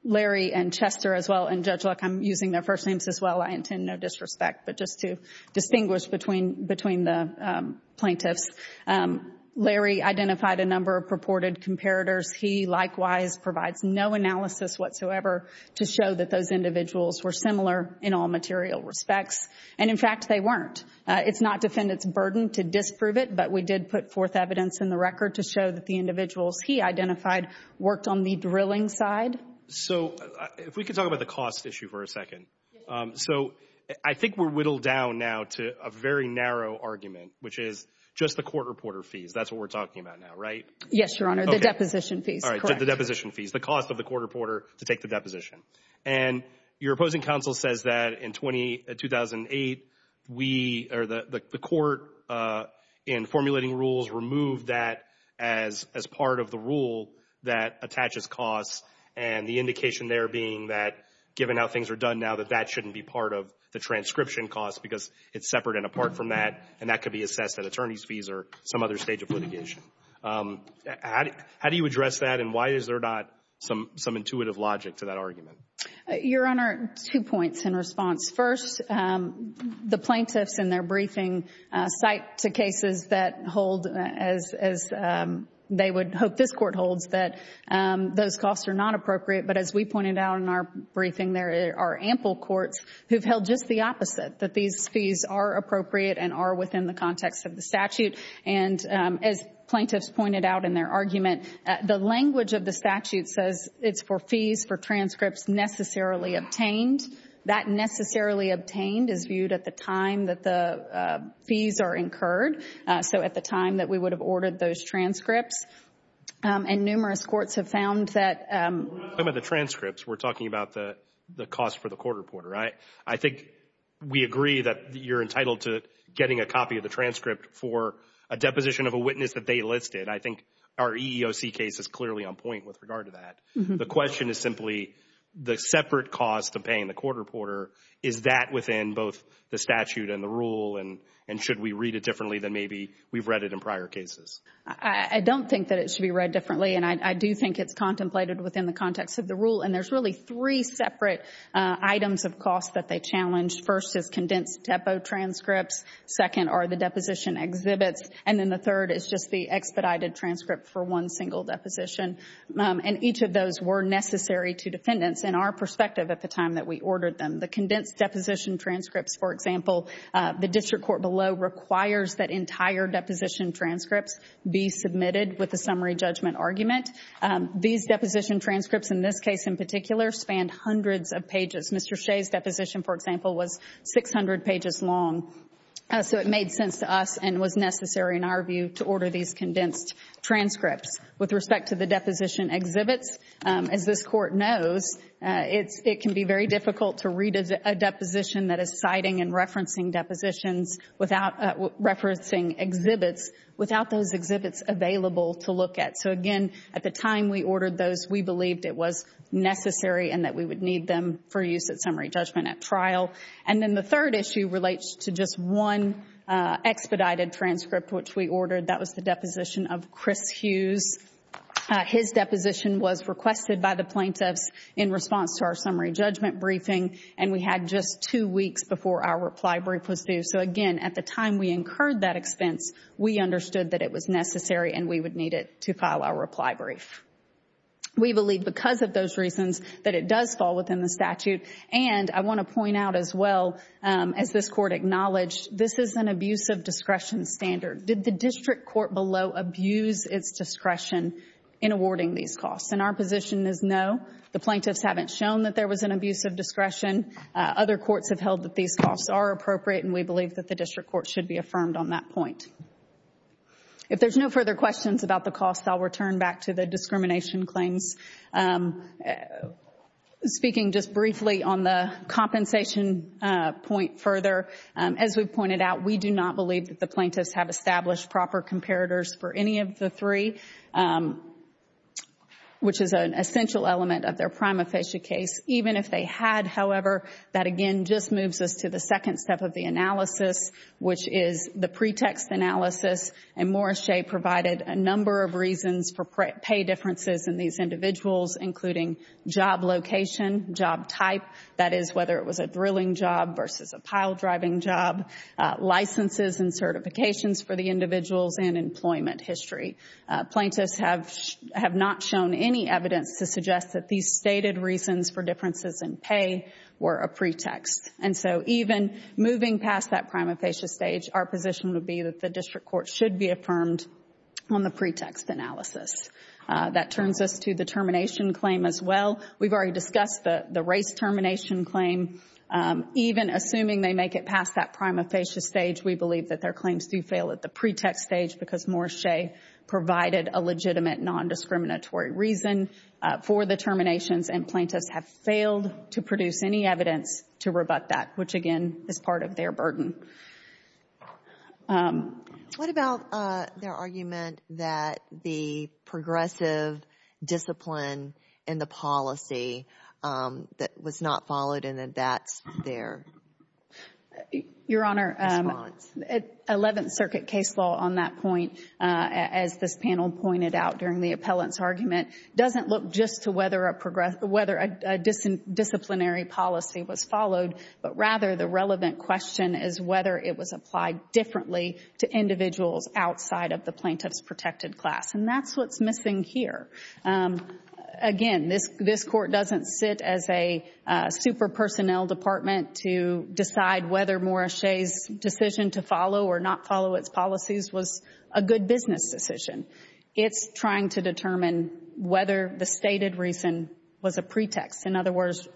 Larry and Chester as well, and Judge Luck. I'm using their first names as well. I intend no disrespect, but just to distinguish between the plaintiffs. Larry identified a number of purported comparators. He likewise provides no analysis whatsoever to show that those individuals were similar in all material respects. And, in fact, they weren't. It's not defendant's burden to disprove it, but we did put forth evidence in the record to show that the individuals he identified worked on the drilling side. So if we could talk about the cost issue for a second. So I think we're whittled down now to a very narrow argument, which is just the court reporter fees. That's what we're talking about now, right? Yes, Your Honor. The deposition fees. The deposition fees. The cost of the court reporter to take the deposition. And your opposing counsel says that in 2008, the court, in formulating rules, removed that as part of the rule that attaches costs, and the indication there being that, given how things are done now, that that shouldn't be part of the transcription cost because it's separate and apart from that, and that could be assessed at attorney's fees or some other stage of litigation. How do you address that, and why is there not some intuitive logic to that argument? Your Honor, two points in response. First, the plaintiffs in their briefing cite to cases that hold, as they would hope this court holds, that those costs are not appropriate. But as we pointed out in our briefing, there are ample courts who've held just the opposite, that these fees are appropriate and are within the context of the statute. And as plaintiffs pointed out in their argument, the language of the statute says it's for fees for transcripts necessarily obtained. That necessarily obtained is viewed at the time that the fees are incurred, so at the time that we would have ordered those transcripts. And numerous courts have found that— When we're talking about the transcripts, we're talking about the cost for the court reporter. I think we agree that you're entitled to getting a copy of the transcript for a deposition of a witness that they listed. I think our EEOC case is clearly on point with regard to that. The question is simply the separate cost of paying the court reporter. Is that within both the statute and the rule, and should we read it differently than maybe we've read it in prior cases? I don't think that it should be read differently, and I do think it's contemplated within the context of the rule. And there's really three separate items of cost that they challenged. First is condensed depot transcripts. Second are the deposition exhibits. And then the third is just the expedited transcript for one single deposition. And each of those were necessary to defendants in our perspective at the time that we ordered them. The condensed deposition transcripts, for example, the district court below requires that entire deposition transcripts be submitted with a summary judgment argument. These deposition transcripts, in this case in particular, spanned hundreds of pages. Mr. Shea's deposition, for example, was 600 pages long. So it made sense to us and was necessary in our view to order these condensed transcripts. With respect to the deposition exhibits, as this court knows, it can be very difficult to read a deposition that is citing and referencing depositions without referencing exhibits, without those exhibits available to look at. So, again, at the time we ordered those, we believed it was necessary and that we would need them for use at summary judgment at trial. And then the third issue relates to just one expedited transcript which we ordered. That was the deposition of Chris Hughes. His deposition was requested by the plaintiffs in response to our summary judgment briefing and we had just two weeks before our reply brief was due. So, again, at the time we incurred that expense, we understood that it was necessary and we would need it to file our reply brief. We believe because of those reasons that it does fall within the statute. And I want to point out as well, as this court acknowledged, this is an abuse of discretion standard. Did the district court below abuse its discretion in awarding these costs? And our position is no. The plaintiffs haven't shown that there was an abuse of discretion. Other courts have held that these costs are appropriate and we believe that the district court should be affirmed on that point. If there's no further questions about the costs, I'll return back to the discrimination claims. Speaking just briefly on the compensation point further, as we've pointed out, we do not believe that the plaintiffs have established proper comparators for any of the three, which is an essential element of their prima facie case. Even if they had, however, that again just moves us to the second step of the analysis, which is the pretext analysis. And Morris Shea provided a number of reasons for pay differences in these individuals, including job location, job type, that is, whether it was a drilling job versus a pile driving job, licenses and certifications for the individuals, and employment history. Plaintiffs have not shown any evidence to suggest that these stated reasons for differences in pay were a pretext. And so even moving past that prima facie stage, our position would be that the district court should be affirmed on the pretext analysis. That turns us to the termination claim as well. We've already discussed the race termination claim. Even assuming they make it past that prima facie stage, we believe that their claims do fail at the pretext stage because Morris Shea provided a legitimate non-discriminatory reason for the terminations and plaintiffs have failed to produce any evidence to rebut that, which again is part of their burden. What about their argument that the progressive discipline in the policy was not followed and that that's their response? Your Honor, 11th Circuit case law on that point, as this panel pointed out during the appellant's argument, doesn't look just to whether a disciplinary policy was followed, but rather the relevant question is whether it was applied differently to individuals outside of the plaintiff's protected class. And that's what's missing here. Again, this court doesn't sit as a super-personnel department to decide whether Morris Shea's decision to follow or not follow its policies was a good business decision. It's trying to determine whether the stated reason was a pretext. In other words,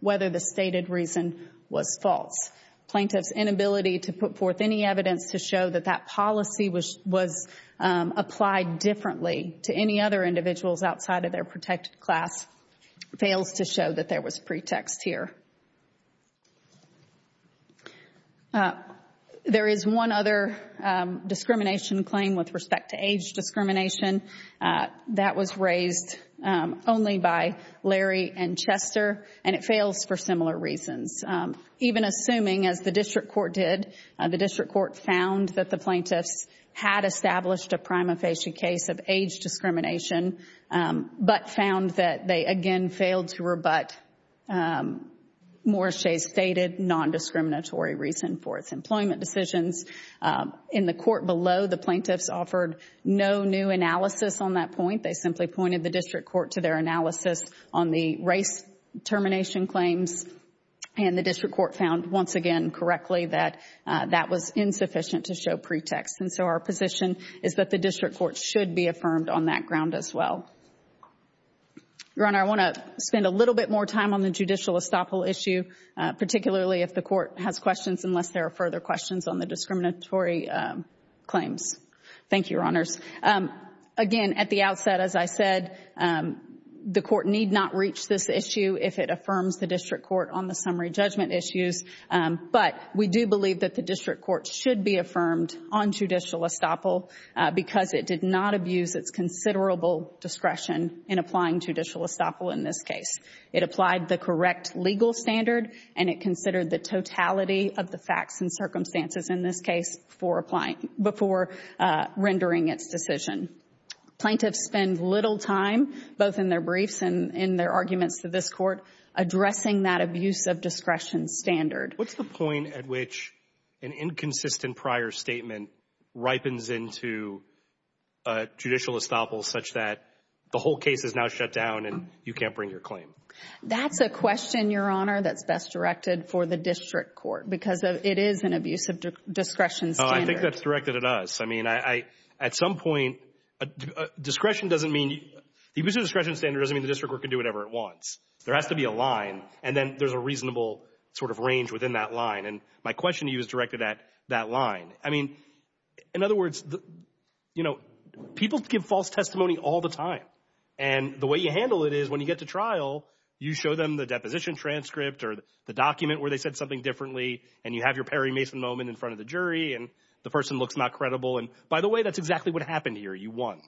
whether the stated reason was false. Plaintiff's inability to put forth any evidence to show that that policy was applied differently to any other individuals outside of their protected class fails to show that there was pretext here. There is one other discrimination claim with respect to age discrimination that was raised only by Larry and Chester, and it fails for similar reasons. Even assuming, as the District Court did, the District Court found that the plaintiffs had established a prima facie case of age discrimination, but found that they again failed to rebut Morris Shea's stated non-discriminatory reason for its employment decisions. In the court below, the plaintiffs offered no new analysis on that point. They simply pointed the District Court to their analysis on the race termination claims, and the District Court found, once again, correctly that that was insufficient to show pretext. And so our position is that the District Court should be affirmed on that ground as well. Your Honor, I want to spend a little bit more time on the judicial estoppel issue, particularly if the Court has questions unless there are further questions on the discriminatory claims. Thank you, Your Honors. Again, at the outset, as I said, the Court need not reach this issue if it affirms the District Court on the summary judgment issues, but we do believe that the District Court should be affirmed on judicial estoppel because it did not abuse its considerable discretion in applying judicial estoppel in this case. It applied the correct legal standard, and it considered the totality of the facts and circumstances in this case before rendering its decision. Plaintiffs spend little time, both in their briefs and in their arguments to this Court, addressing that abuse of discretion standard. What's the point at which an inconsistent prior statement ripens into judicial estoppel such that the whole case is now shut down and you can't bring your claim? That's a question, Your Honor, that's best directed for the District Court because it is an abuse of discretion standard. Oh, I think that's directed at us. I mean, at some point, the abuse of discretion standard doesn't mean the District Court can do whatever it wants. There has to be a line, and then there's a reasonable sort of range within that line. And my question to you is directed at that line. I mean, in other words, you know, people give false testimony all the time, and the way you handle it is when you get to trial, you show them the deposition transcript or the document where they said something differently, and you have your Perry Mason moment in front of the jury, and the person looks not credible. And, by the way, that's exactly what happened here. You won.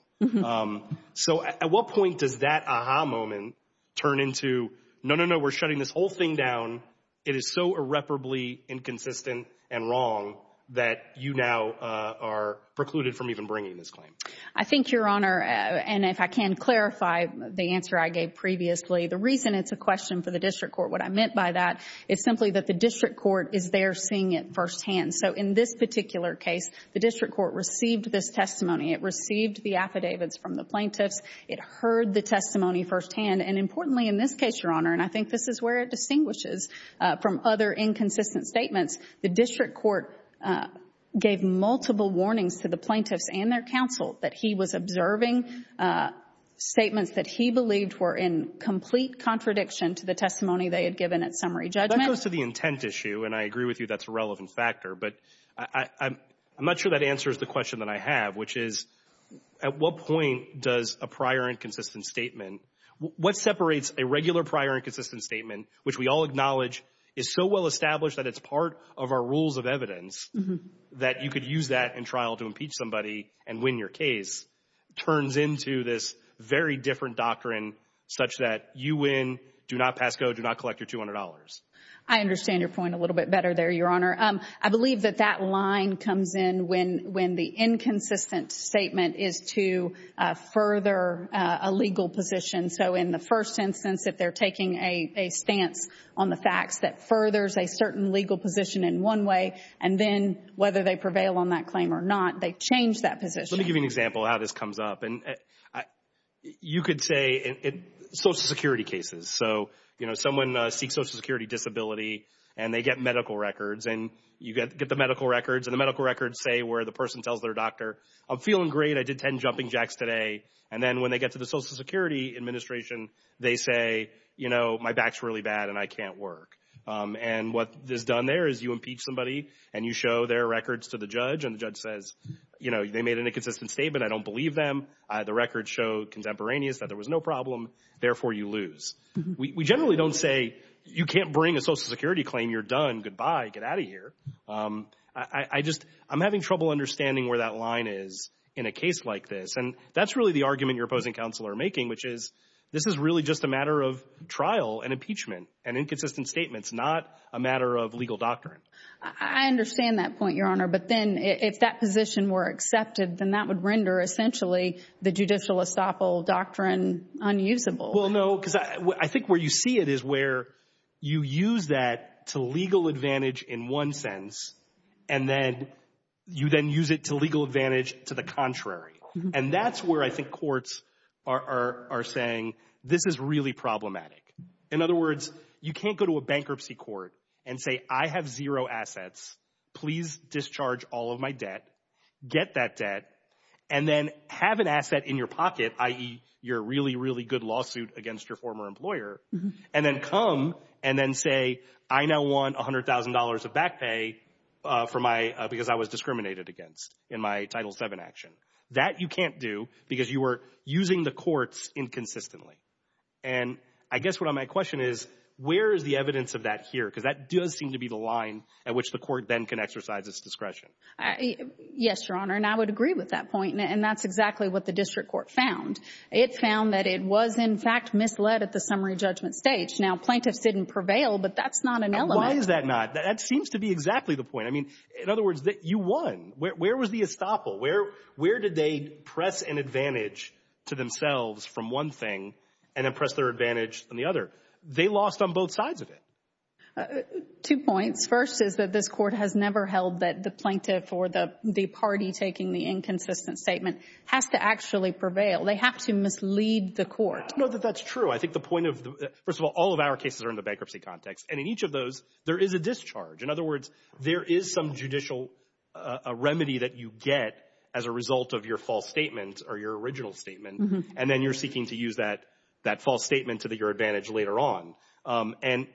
So at what point does that aha moment turn into, no, no, no, we're shutting this whole thing down. It is so irreparably inconsistent and wrong that you now are precluded from even bringing this claim. I think, Your Honor, and if I can clarify the answer I gave previously, the reason it's a question for the District Court, what I meant by that, is simply that the District Court is there seeing it firsthand. So in this particular case, the District Court received this testimony. It received the affidavits from the plaintiffs. It heard the testimony firsthand. And, importantly, in this case, Your Honor, and I think this is where it distinguishes from other inconsistent statements, the District Court gave multiple warnings to the plaintiffs and their counsel that he was observing statements that he believed were in complete contradiction to the testimony they had given at summary judgment. That goes to the intent issue, and I agree with you that's a relevant factor. But I'm not sure that answers the question that I have, which is, at what point does a prior inconsistent statement, what separates a regular prior inconsistent statement, which we all acknowledge is so well established that it's part of our rules of evidence, that you could use that in trial to impeach somebody and win your case, turns into this very different doctrine such that you win, do not pass code, do not collect your $200. I understand your point a little bit better there, Your Honor. I believe that that line comes in when the inconsistent statement is to further a legal position. So in the first instance, if they're taking a stance on the facts that furthers a certain legal position in one way, and then whether they prevail on that claim or not, they change that position. Let me give you an example of how this comes up. You could say social security cases. So, you know, someone seeks social security disability, and they get medical records, and you get the medical records, and the medical records say where the person tells their doctor, I'm feeling great, I did 10 jumping jacks today. And then when they get to the Social Security Administration, they say, you know, my back's really bad and I can't work. And what is done there is you impeach somebody, and you show their records to the judge, and the judge says, you know, they made an inconsistent statement, I don't believe them. The records show contemporaneous that there was no problem, therefore you lose. We generally don't say you can't bring a social security claim, you're done, goodbye, get out of here. I just, I'm having trouble understanding where that line is in a case like this. And that's really the argument your opposing counsel are making, which is this is really just a matter of trial and impeachment and inconsistent statements, not a matter of legal doctrine. I understand that point, Your Honor. But then if that position were accepted, then that would render essentially the judicial estoppel doctrine unusable. Well, no, because I think where you see it is where you use that to legal advantage in one sense, and then you then use it to legal advantage to the contrary. And that's where I think courts are saying this is really problematic. In other words, you can't go to a bankruptcy court and say, I have zero assets, please discharge all of my debt, get that debt, and then have an asset in your pocket, i.e., your really, really good lawsuit against your former employer, and then come and then say, I now want $100,000 of back pay for my, because I was discriminated against in my Title VII action. That you can't do because you were using the courts inconsistently. And I guess what my question is, where is the evidence of that here? Because that does seem to be the line at which the court then can exercise its discretion. Yes, Your Honor, and I would agree with that point. And that's exactly what the district court found. It found that it was, in fact, misled at the summary judgment stage. Now, plaintiffs didn't prevail, but that's not an element. Why is that not? That seems to be exactly the point. I mean, in other words, you won. Where was the estoppel? Where did they press an advantage to themselves from one thing and then press their advantage on the other? They lost on both sides of it. Two points. First is that this court has never held that the plaintiff or the party taking the inconsistent statement has to actually prevail. They have to mislead the court. No, that's true. I think the point of the, first of all, all of our cases are in the bankruptcy context. And in each of those, there is a discharge. In other words, there is some judicial remedy that you get as a result of your false statement or your original statement. And then you're seeking to use that false statement to your advantage later on. And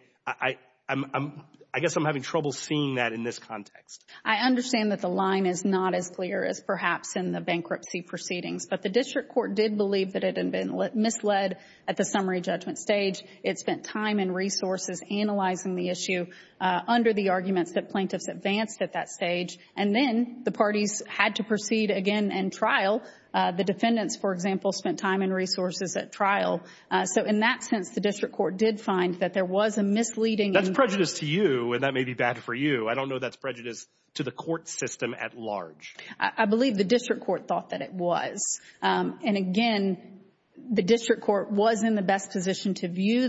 I guess I'm having trouble seeing that in this context. I understand that the line is not as clear as perhaps in the bankruptcy proceedings. But the district court did believe that it had been misled at the summary judgment stage. It spent time and resources analyzing the issue under the arguments that plaintiffs advanced at that stage. And then the parties had to proceed again and trial. The defendants, for example, spent time and resources at trial. So in that sense, the district court did find that there was a misleading. That's prejudice to you, and that may be bad for you. I don't know that's prejudice to the court system at large. I believe the district court thought that it was. And, again, the district court was in the best position to view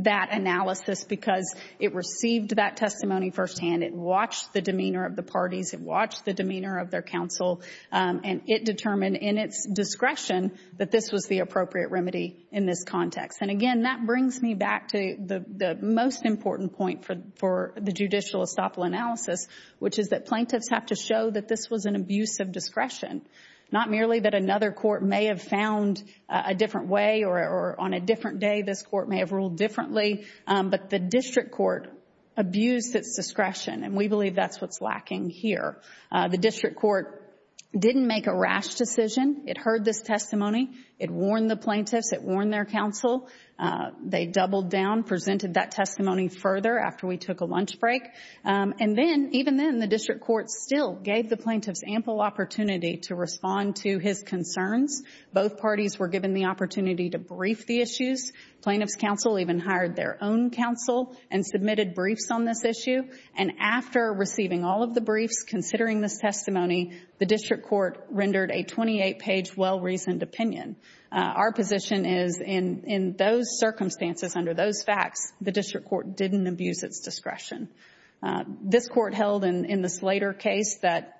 that analysis because it received that testimony firsthand. It watched the demeanor of the parties. It watched the demeanor of their counsel. And it determined in its discretion that this was the appropriate remedy in this context. And, again, that brings me back to the most important point for the judicial estoppel analysis, which is that plaintiffs have to show that this was an abuse of discretion, not merely that another court may have found a different way or on a different day this court may have ruled differently, but the district court abused its discretion. And we believe that's what's lacking here. The district court didn't make a rash decision. It heard this testimony. It warned the plaintiffs. It warned their counsel. They doubled down, presented that testimony further after we took a lunch break. And then, even then, the district court still gave the plaintiffs ample opportunity to respond to his concerns. Both parties were given the opportunity to brief the issues. Plaintiffs' counsel even hired their own counsel and submitted briefs on this issue. And after receiving all of the briefs, considering this testimony, the district court rendered a 28-page well-reasoned opinion. Our position is in those circumstances, under those facts, the district court didn't abuse its discretion. This court held in this later case that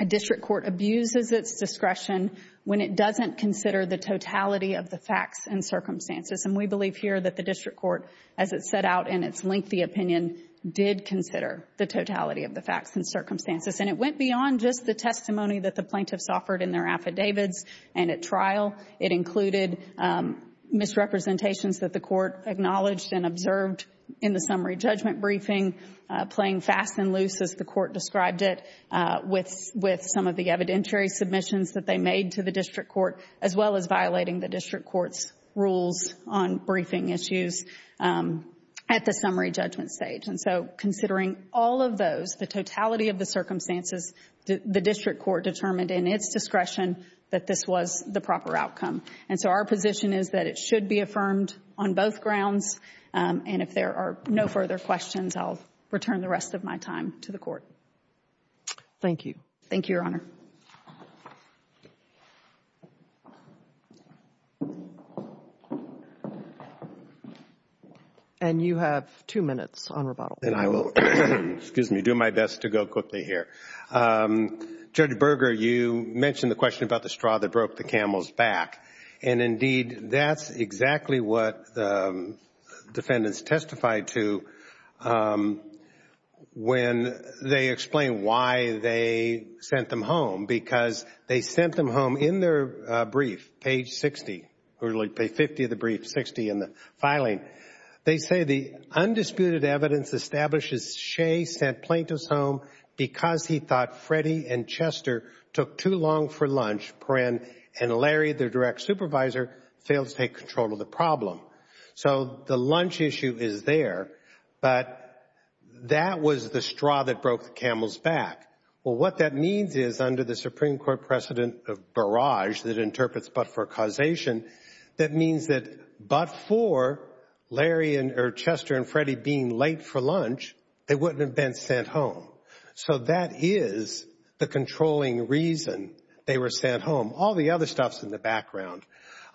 a district court abuses its discretion when it doesn't consider the totality of the facts and circumstances. And we believe here that the district court, as it set out in its lengthy opinion, did consider the totality of the facts and circumstances. And it went beyond just the testimony that the plaintiffs offered in their affidavits and at trial. It included misrepresentations that the court acknowledged and observed in the summary judgment briefing, playing fast and loose, as the court described it, with some of the evidentiary submissions that they made to the district court, as well as violating the district court's rules on briefing issues at the summary judgment stage. And so considering all of those, the totality of the circumstances, the district court determined in its discretion that this was the proper outcome. And so our position is that it should be affirmed on both grounds. And if there are no further questions, I'll return the rest of my time to the Court. Thank you. Thank you, Your Honor. Thank you. And you have two minutes on rebuttal. And I will do my best to go quickly here. Judge Berger, you mentioned the question about the straw that broke the camel's back. And indeed, that's exactly what the defendants testified to when they explained why they sent them home, because they sent them home in their brief, page 60, or page 50 of the brief, 60 in the filing. They say the undisputed evidence establishes Shea sent plaintiffs home because he thought Freddie and Chester took too long for lunch and Larry, their direct supervisor, failed to take control of the problem. So the lunch issue is there, but that was the straw that broke the camel's back. Well, what that means is under the Supreme Court precedent of barrage that interprets but for causation, that means that but for Larry or Chester and Freddie being late for lunch, they wouldn't have been sent home. So that is the controlling reason they were sent home. All the other stuff is in the background.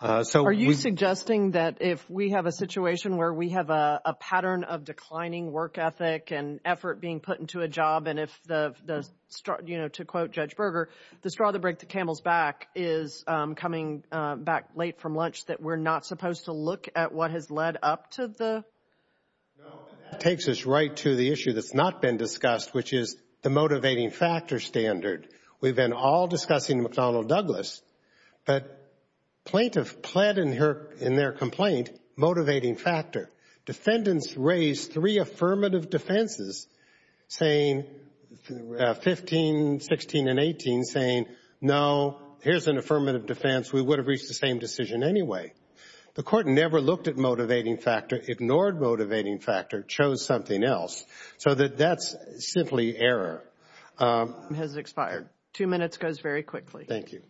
Are you suggesting that if we have a situation where we have a pattern of declining work ethic and effort being put into a job and if the, you know, to quote Judge Berger, the straw that broke the camel's back is coming back late from lunch, that we're not supposed to look at what has led up to the? No, that takes us right to the issue that's not been discussed, which is the motivating factor standard. We've been all discussing McDonnell Douglas, but plaintiff pled in their complaint motivating factor. Defendants raised three affirmative defenses, saying 15, 16, and 18, saying, no, here's an affirmative defense, we would have reached the same decision anyway. The court never looked at motivating factor, ignored motivating factor, chose something else. So that's simply error. Time has expired. Two minutes goes very quickly. Thank you.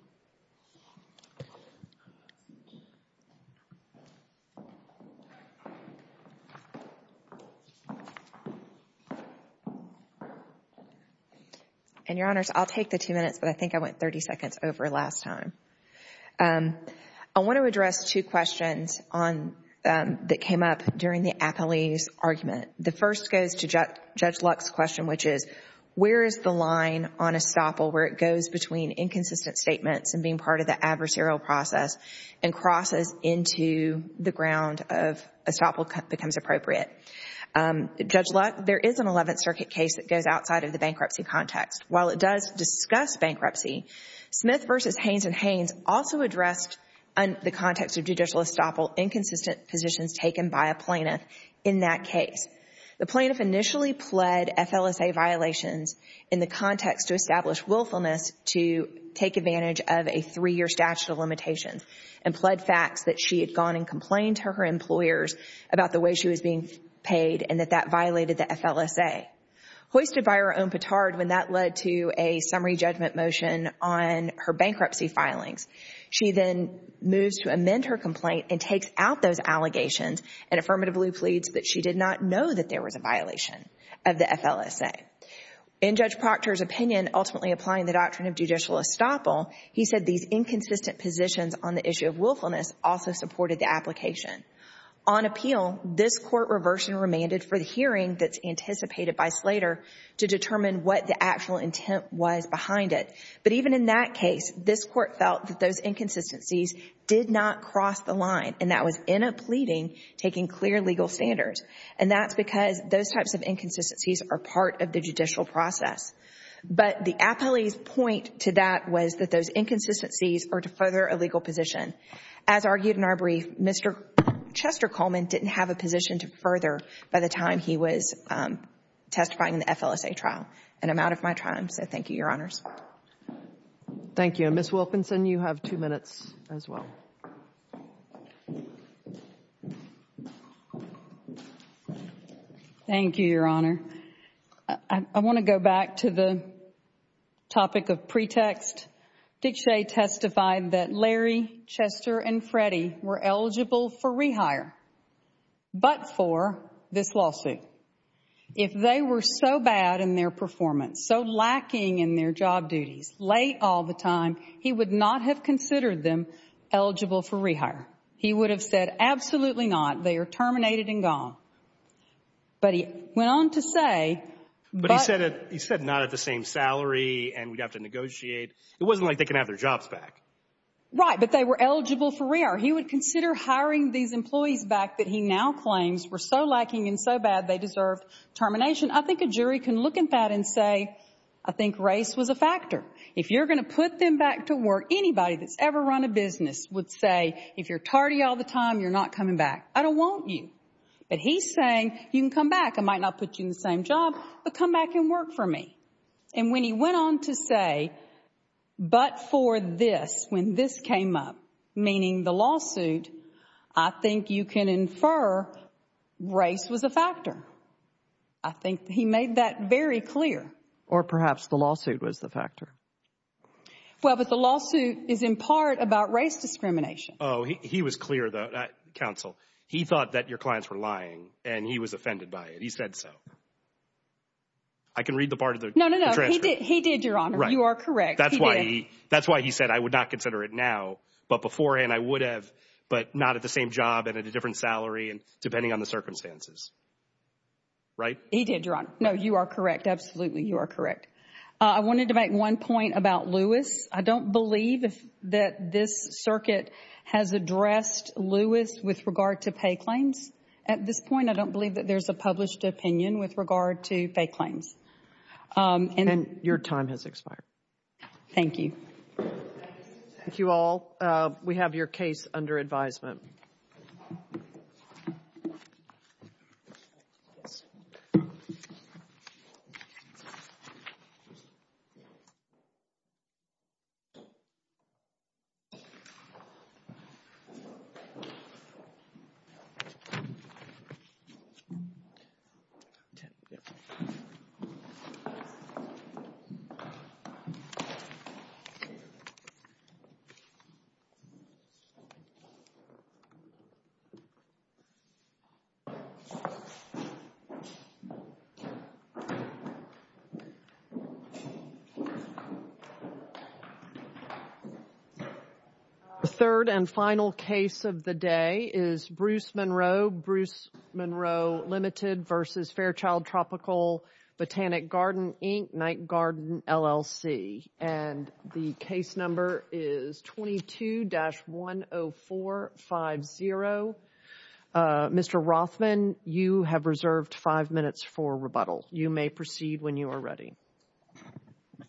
And, Your Honors, I'll take the two minutes, but I think I went 30 seconds over last time. I want to address two questions that came up during the appellee's argument. The first goes to Judge Luck's question, which is, where is the line on estoppel where it goes between inconsistent statements and being part of the adversarial process and crosses into the ground of estoppel becomes appropriate? Judge Luck, there is an Eleventh Circuit case that goes outside of the bankruptcy context. While it does discuss bankruptcy, Smith v. Haynes & Haynes also addressed the context of judicial estoppel inconsistent positions taken by a plaintiff in that case. The plaintiff initially pled FLSA violations in the context to establish willfulness to take advantage of a three-year statute of limitations and pled facts that she had gone and complained to her employers about the way she was being paid and that that violated the FLSA. Hoisted by her own petard when that led to a summary judgment motion on her bankruptcy filings, she then moves to amend her complaint and takes out those allegations and affirmatively pleads that she did not know that there was a violation of the FLSA. In Judge Proctor's opinion, ultimately applying the doctrine of judicial estoppel, he said these inconsistent positions on the issue of willfulness also supported the application. On appeal, this Court reversed and remanded for the hearing that's anticipated by Slater to determine what the actual intent was behind it. But even in that case, this Court felt that those inconsistencies did not cross the line and that was in a pleading taking clear legal standards. And that's because those types of inconsistencies are part of the judicial process. But the appellee's point to that was that those inconsistencies are to further a legal position. As argued in our brief, Mr. Chester Coleman didn't have a position to further by the time he was testifying in the FLSA trial. And I'm out of my time, so thank you, Your Honors. Thank you. And Ms. Wilkinson, you have two minutes as well. Thank you, Your Honor. I want to go back to the topic of pretext. Dick Shea testified that Larry, Chester, and Freddie were eligible for rehire but for this lawsuit. If they were so bad in their performance, so lacking in their job duties late all the time, he would not have considered them eligible for rehire. He would have said, absolutely not. They are terminated and gone. But he went on to say— Right, but they were eligible for rehire. He would consider hiring these employees back that he now claims were so lacking and so bad they deserved termination. I think a jury can look at that and say, I think race was a factor. If you're going to put them back to work, anybody that's ever run a business would say, if you're tardy all the time, you're not coming back. I don't want you. But he's saying, you can come back. I might not put you in the same job, but come back and work for me. And when he went on to say, but for this, when this came up, meaning the lawsuit, I think you can infer race was a factor. I think he made that very clear. Or perhaps the lawsuit was the factor. Well, but the lawsuit is in part about race discrimination. Oh, he was clear, Counsel. He thought that your clients were lying, and he was offended by it. He said so. I can read the part of the transcript. No, no, no, he did, Your Honor. You are correct. That's why he said, I would not consider it now. But beforehand, I would have, but not at the same job and at a different salary, depending on the circumstances. Right? He did, Your Honor. No, you are correct. Absolutely, you are correct. I wanted to make one point about Lewis. I don't believe that this circuit has addressed Lewis with regard to pay claims at this point. I don't believe that there's a published opinion with regard to pay claims. And your time has expired. Thank you. Thank you all. We have your case under advisement. Okay. The third and final case of the day is Bruce Monroe. Bruce Monroe Limited versus Fairchild Tropical Botanic Garden, Inc., Night Garden, LLC. And the case number is 22-10450. Mr. Rothman, you have reserved five minutes for rebuttal. You may proceed when you are ready.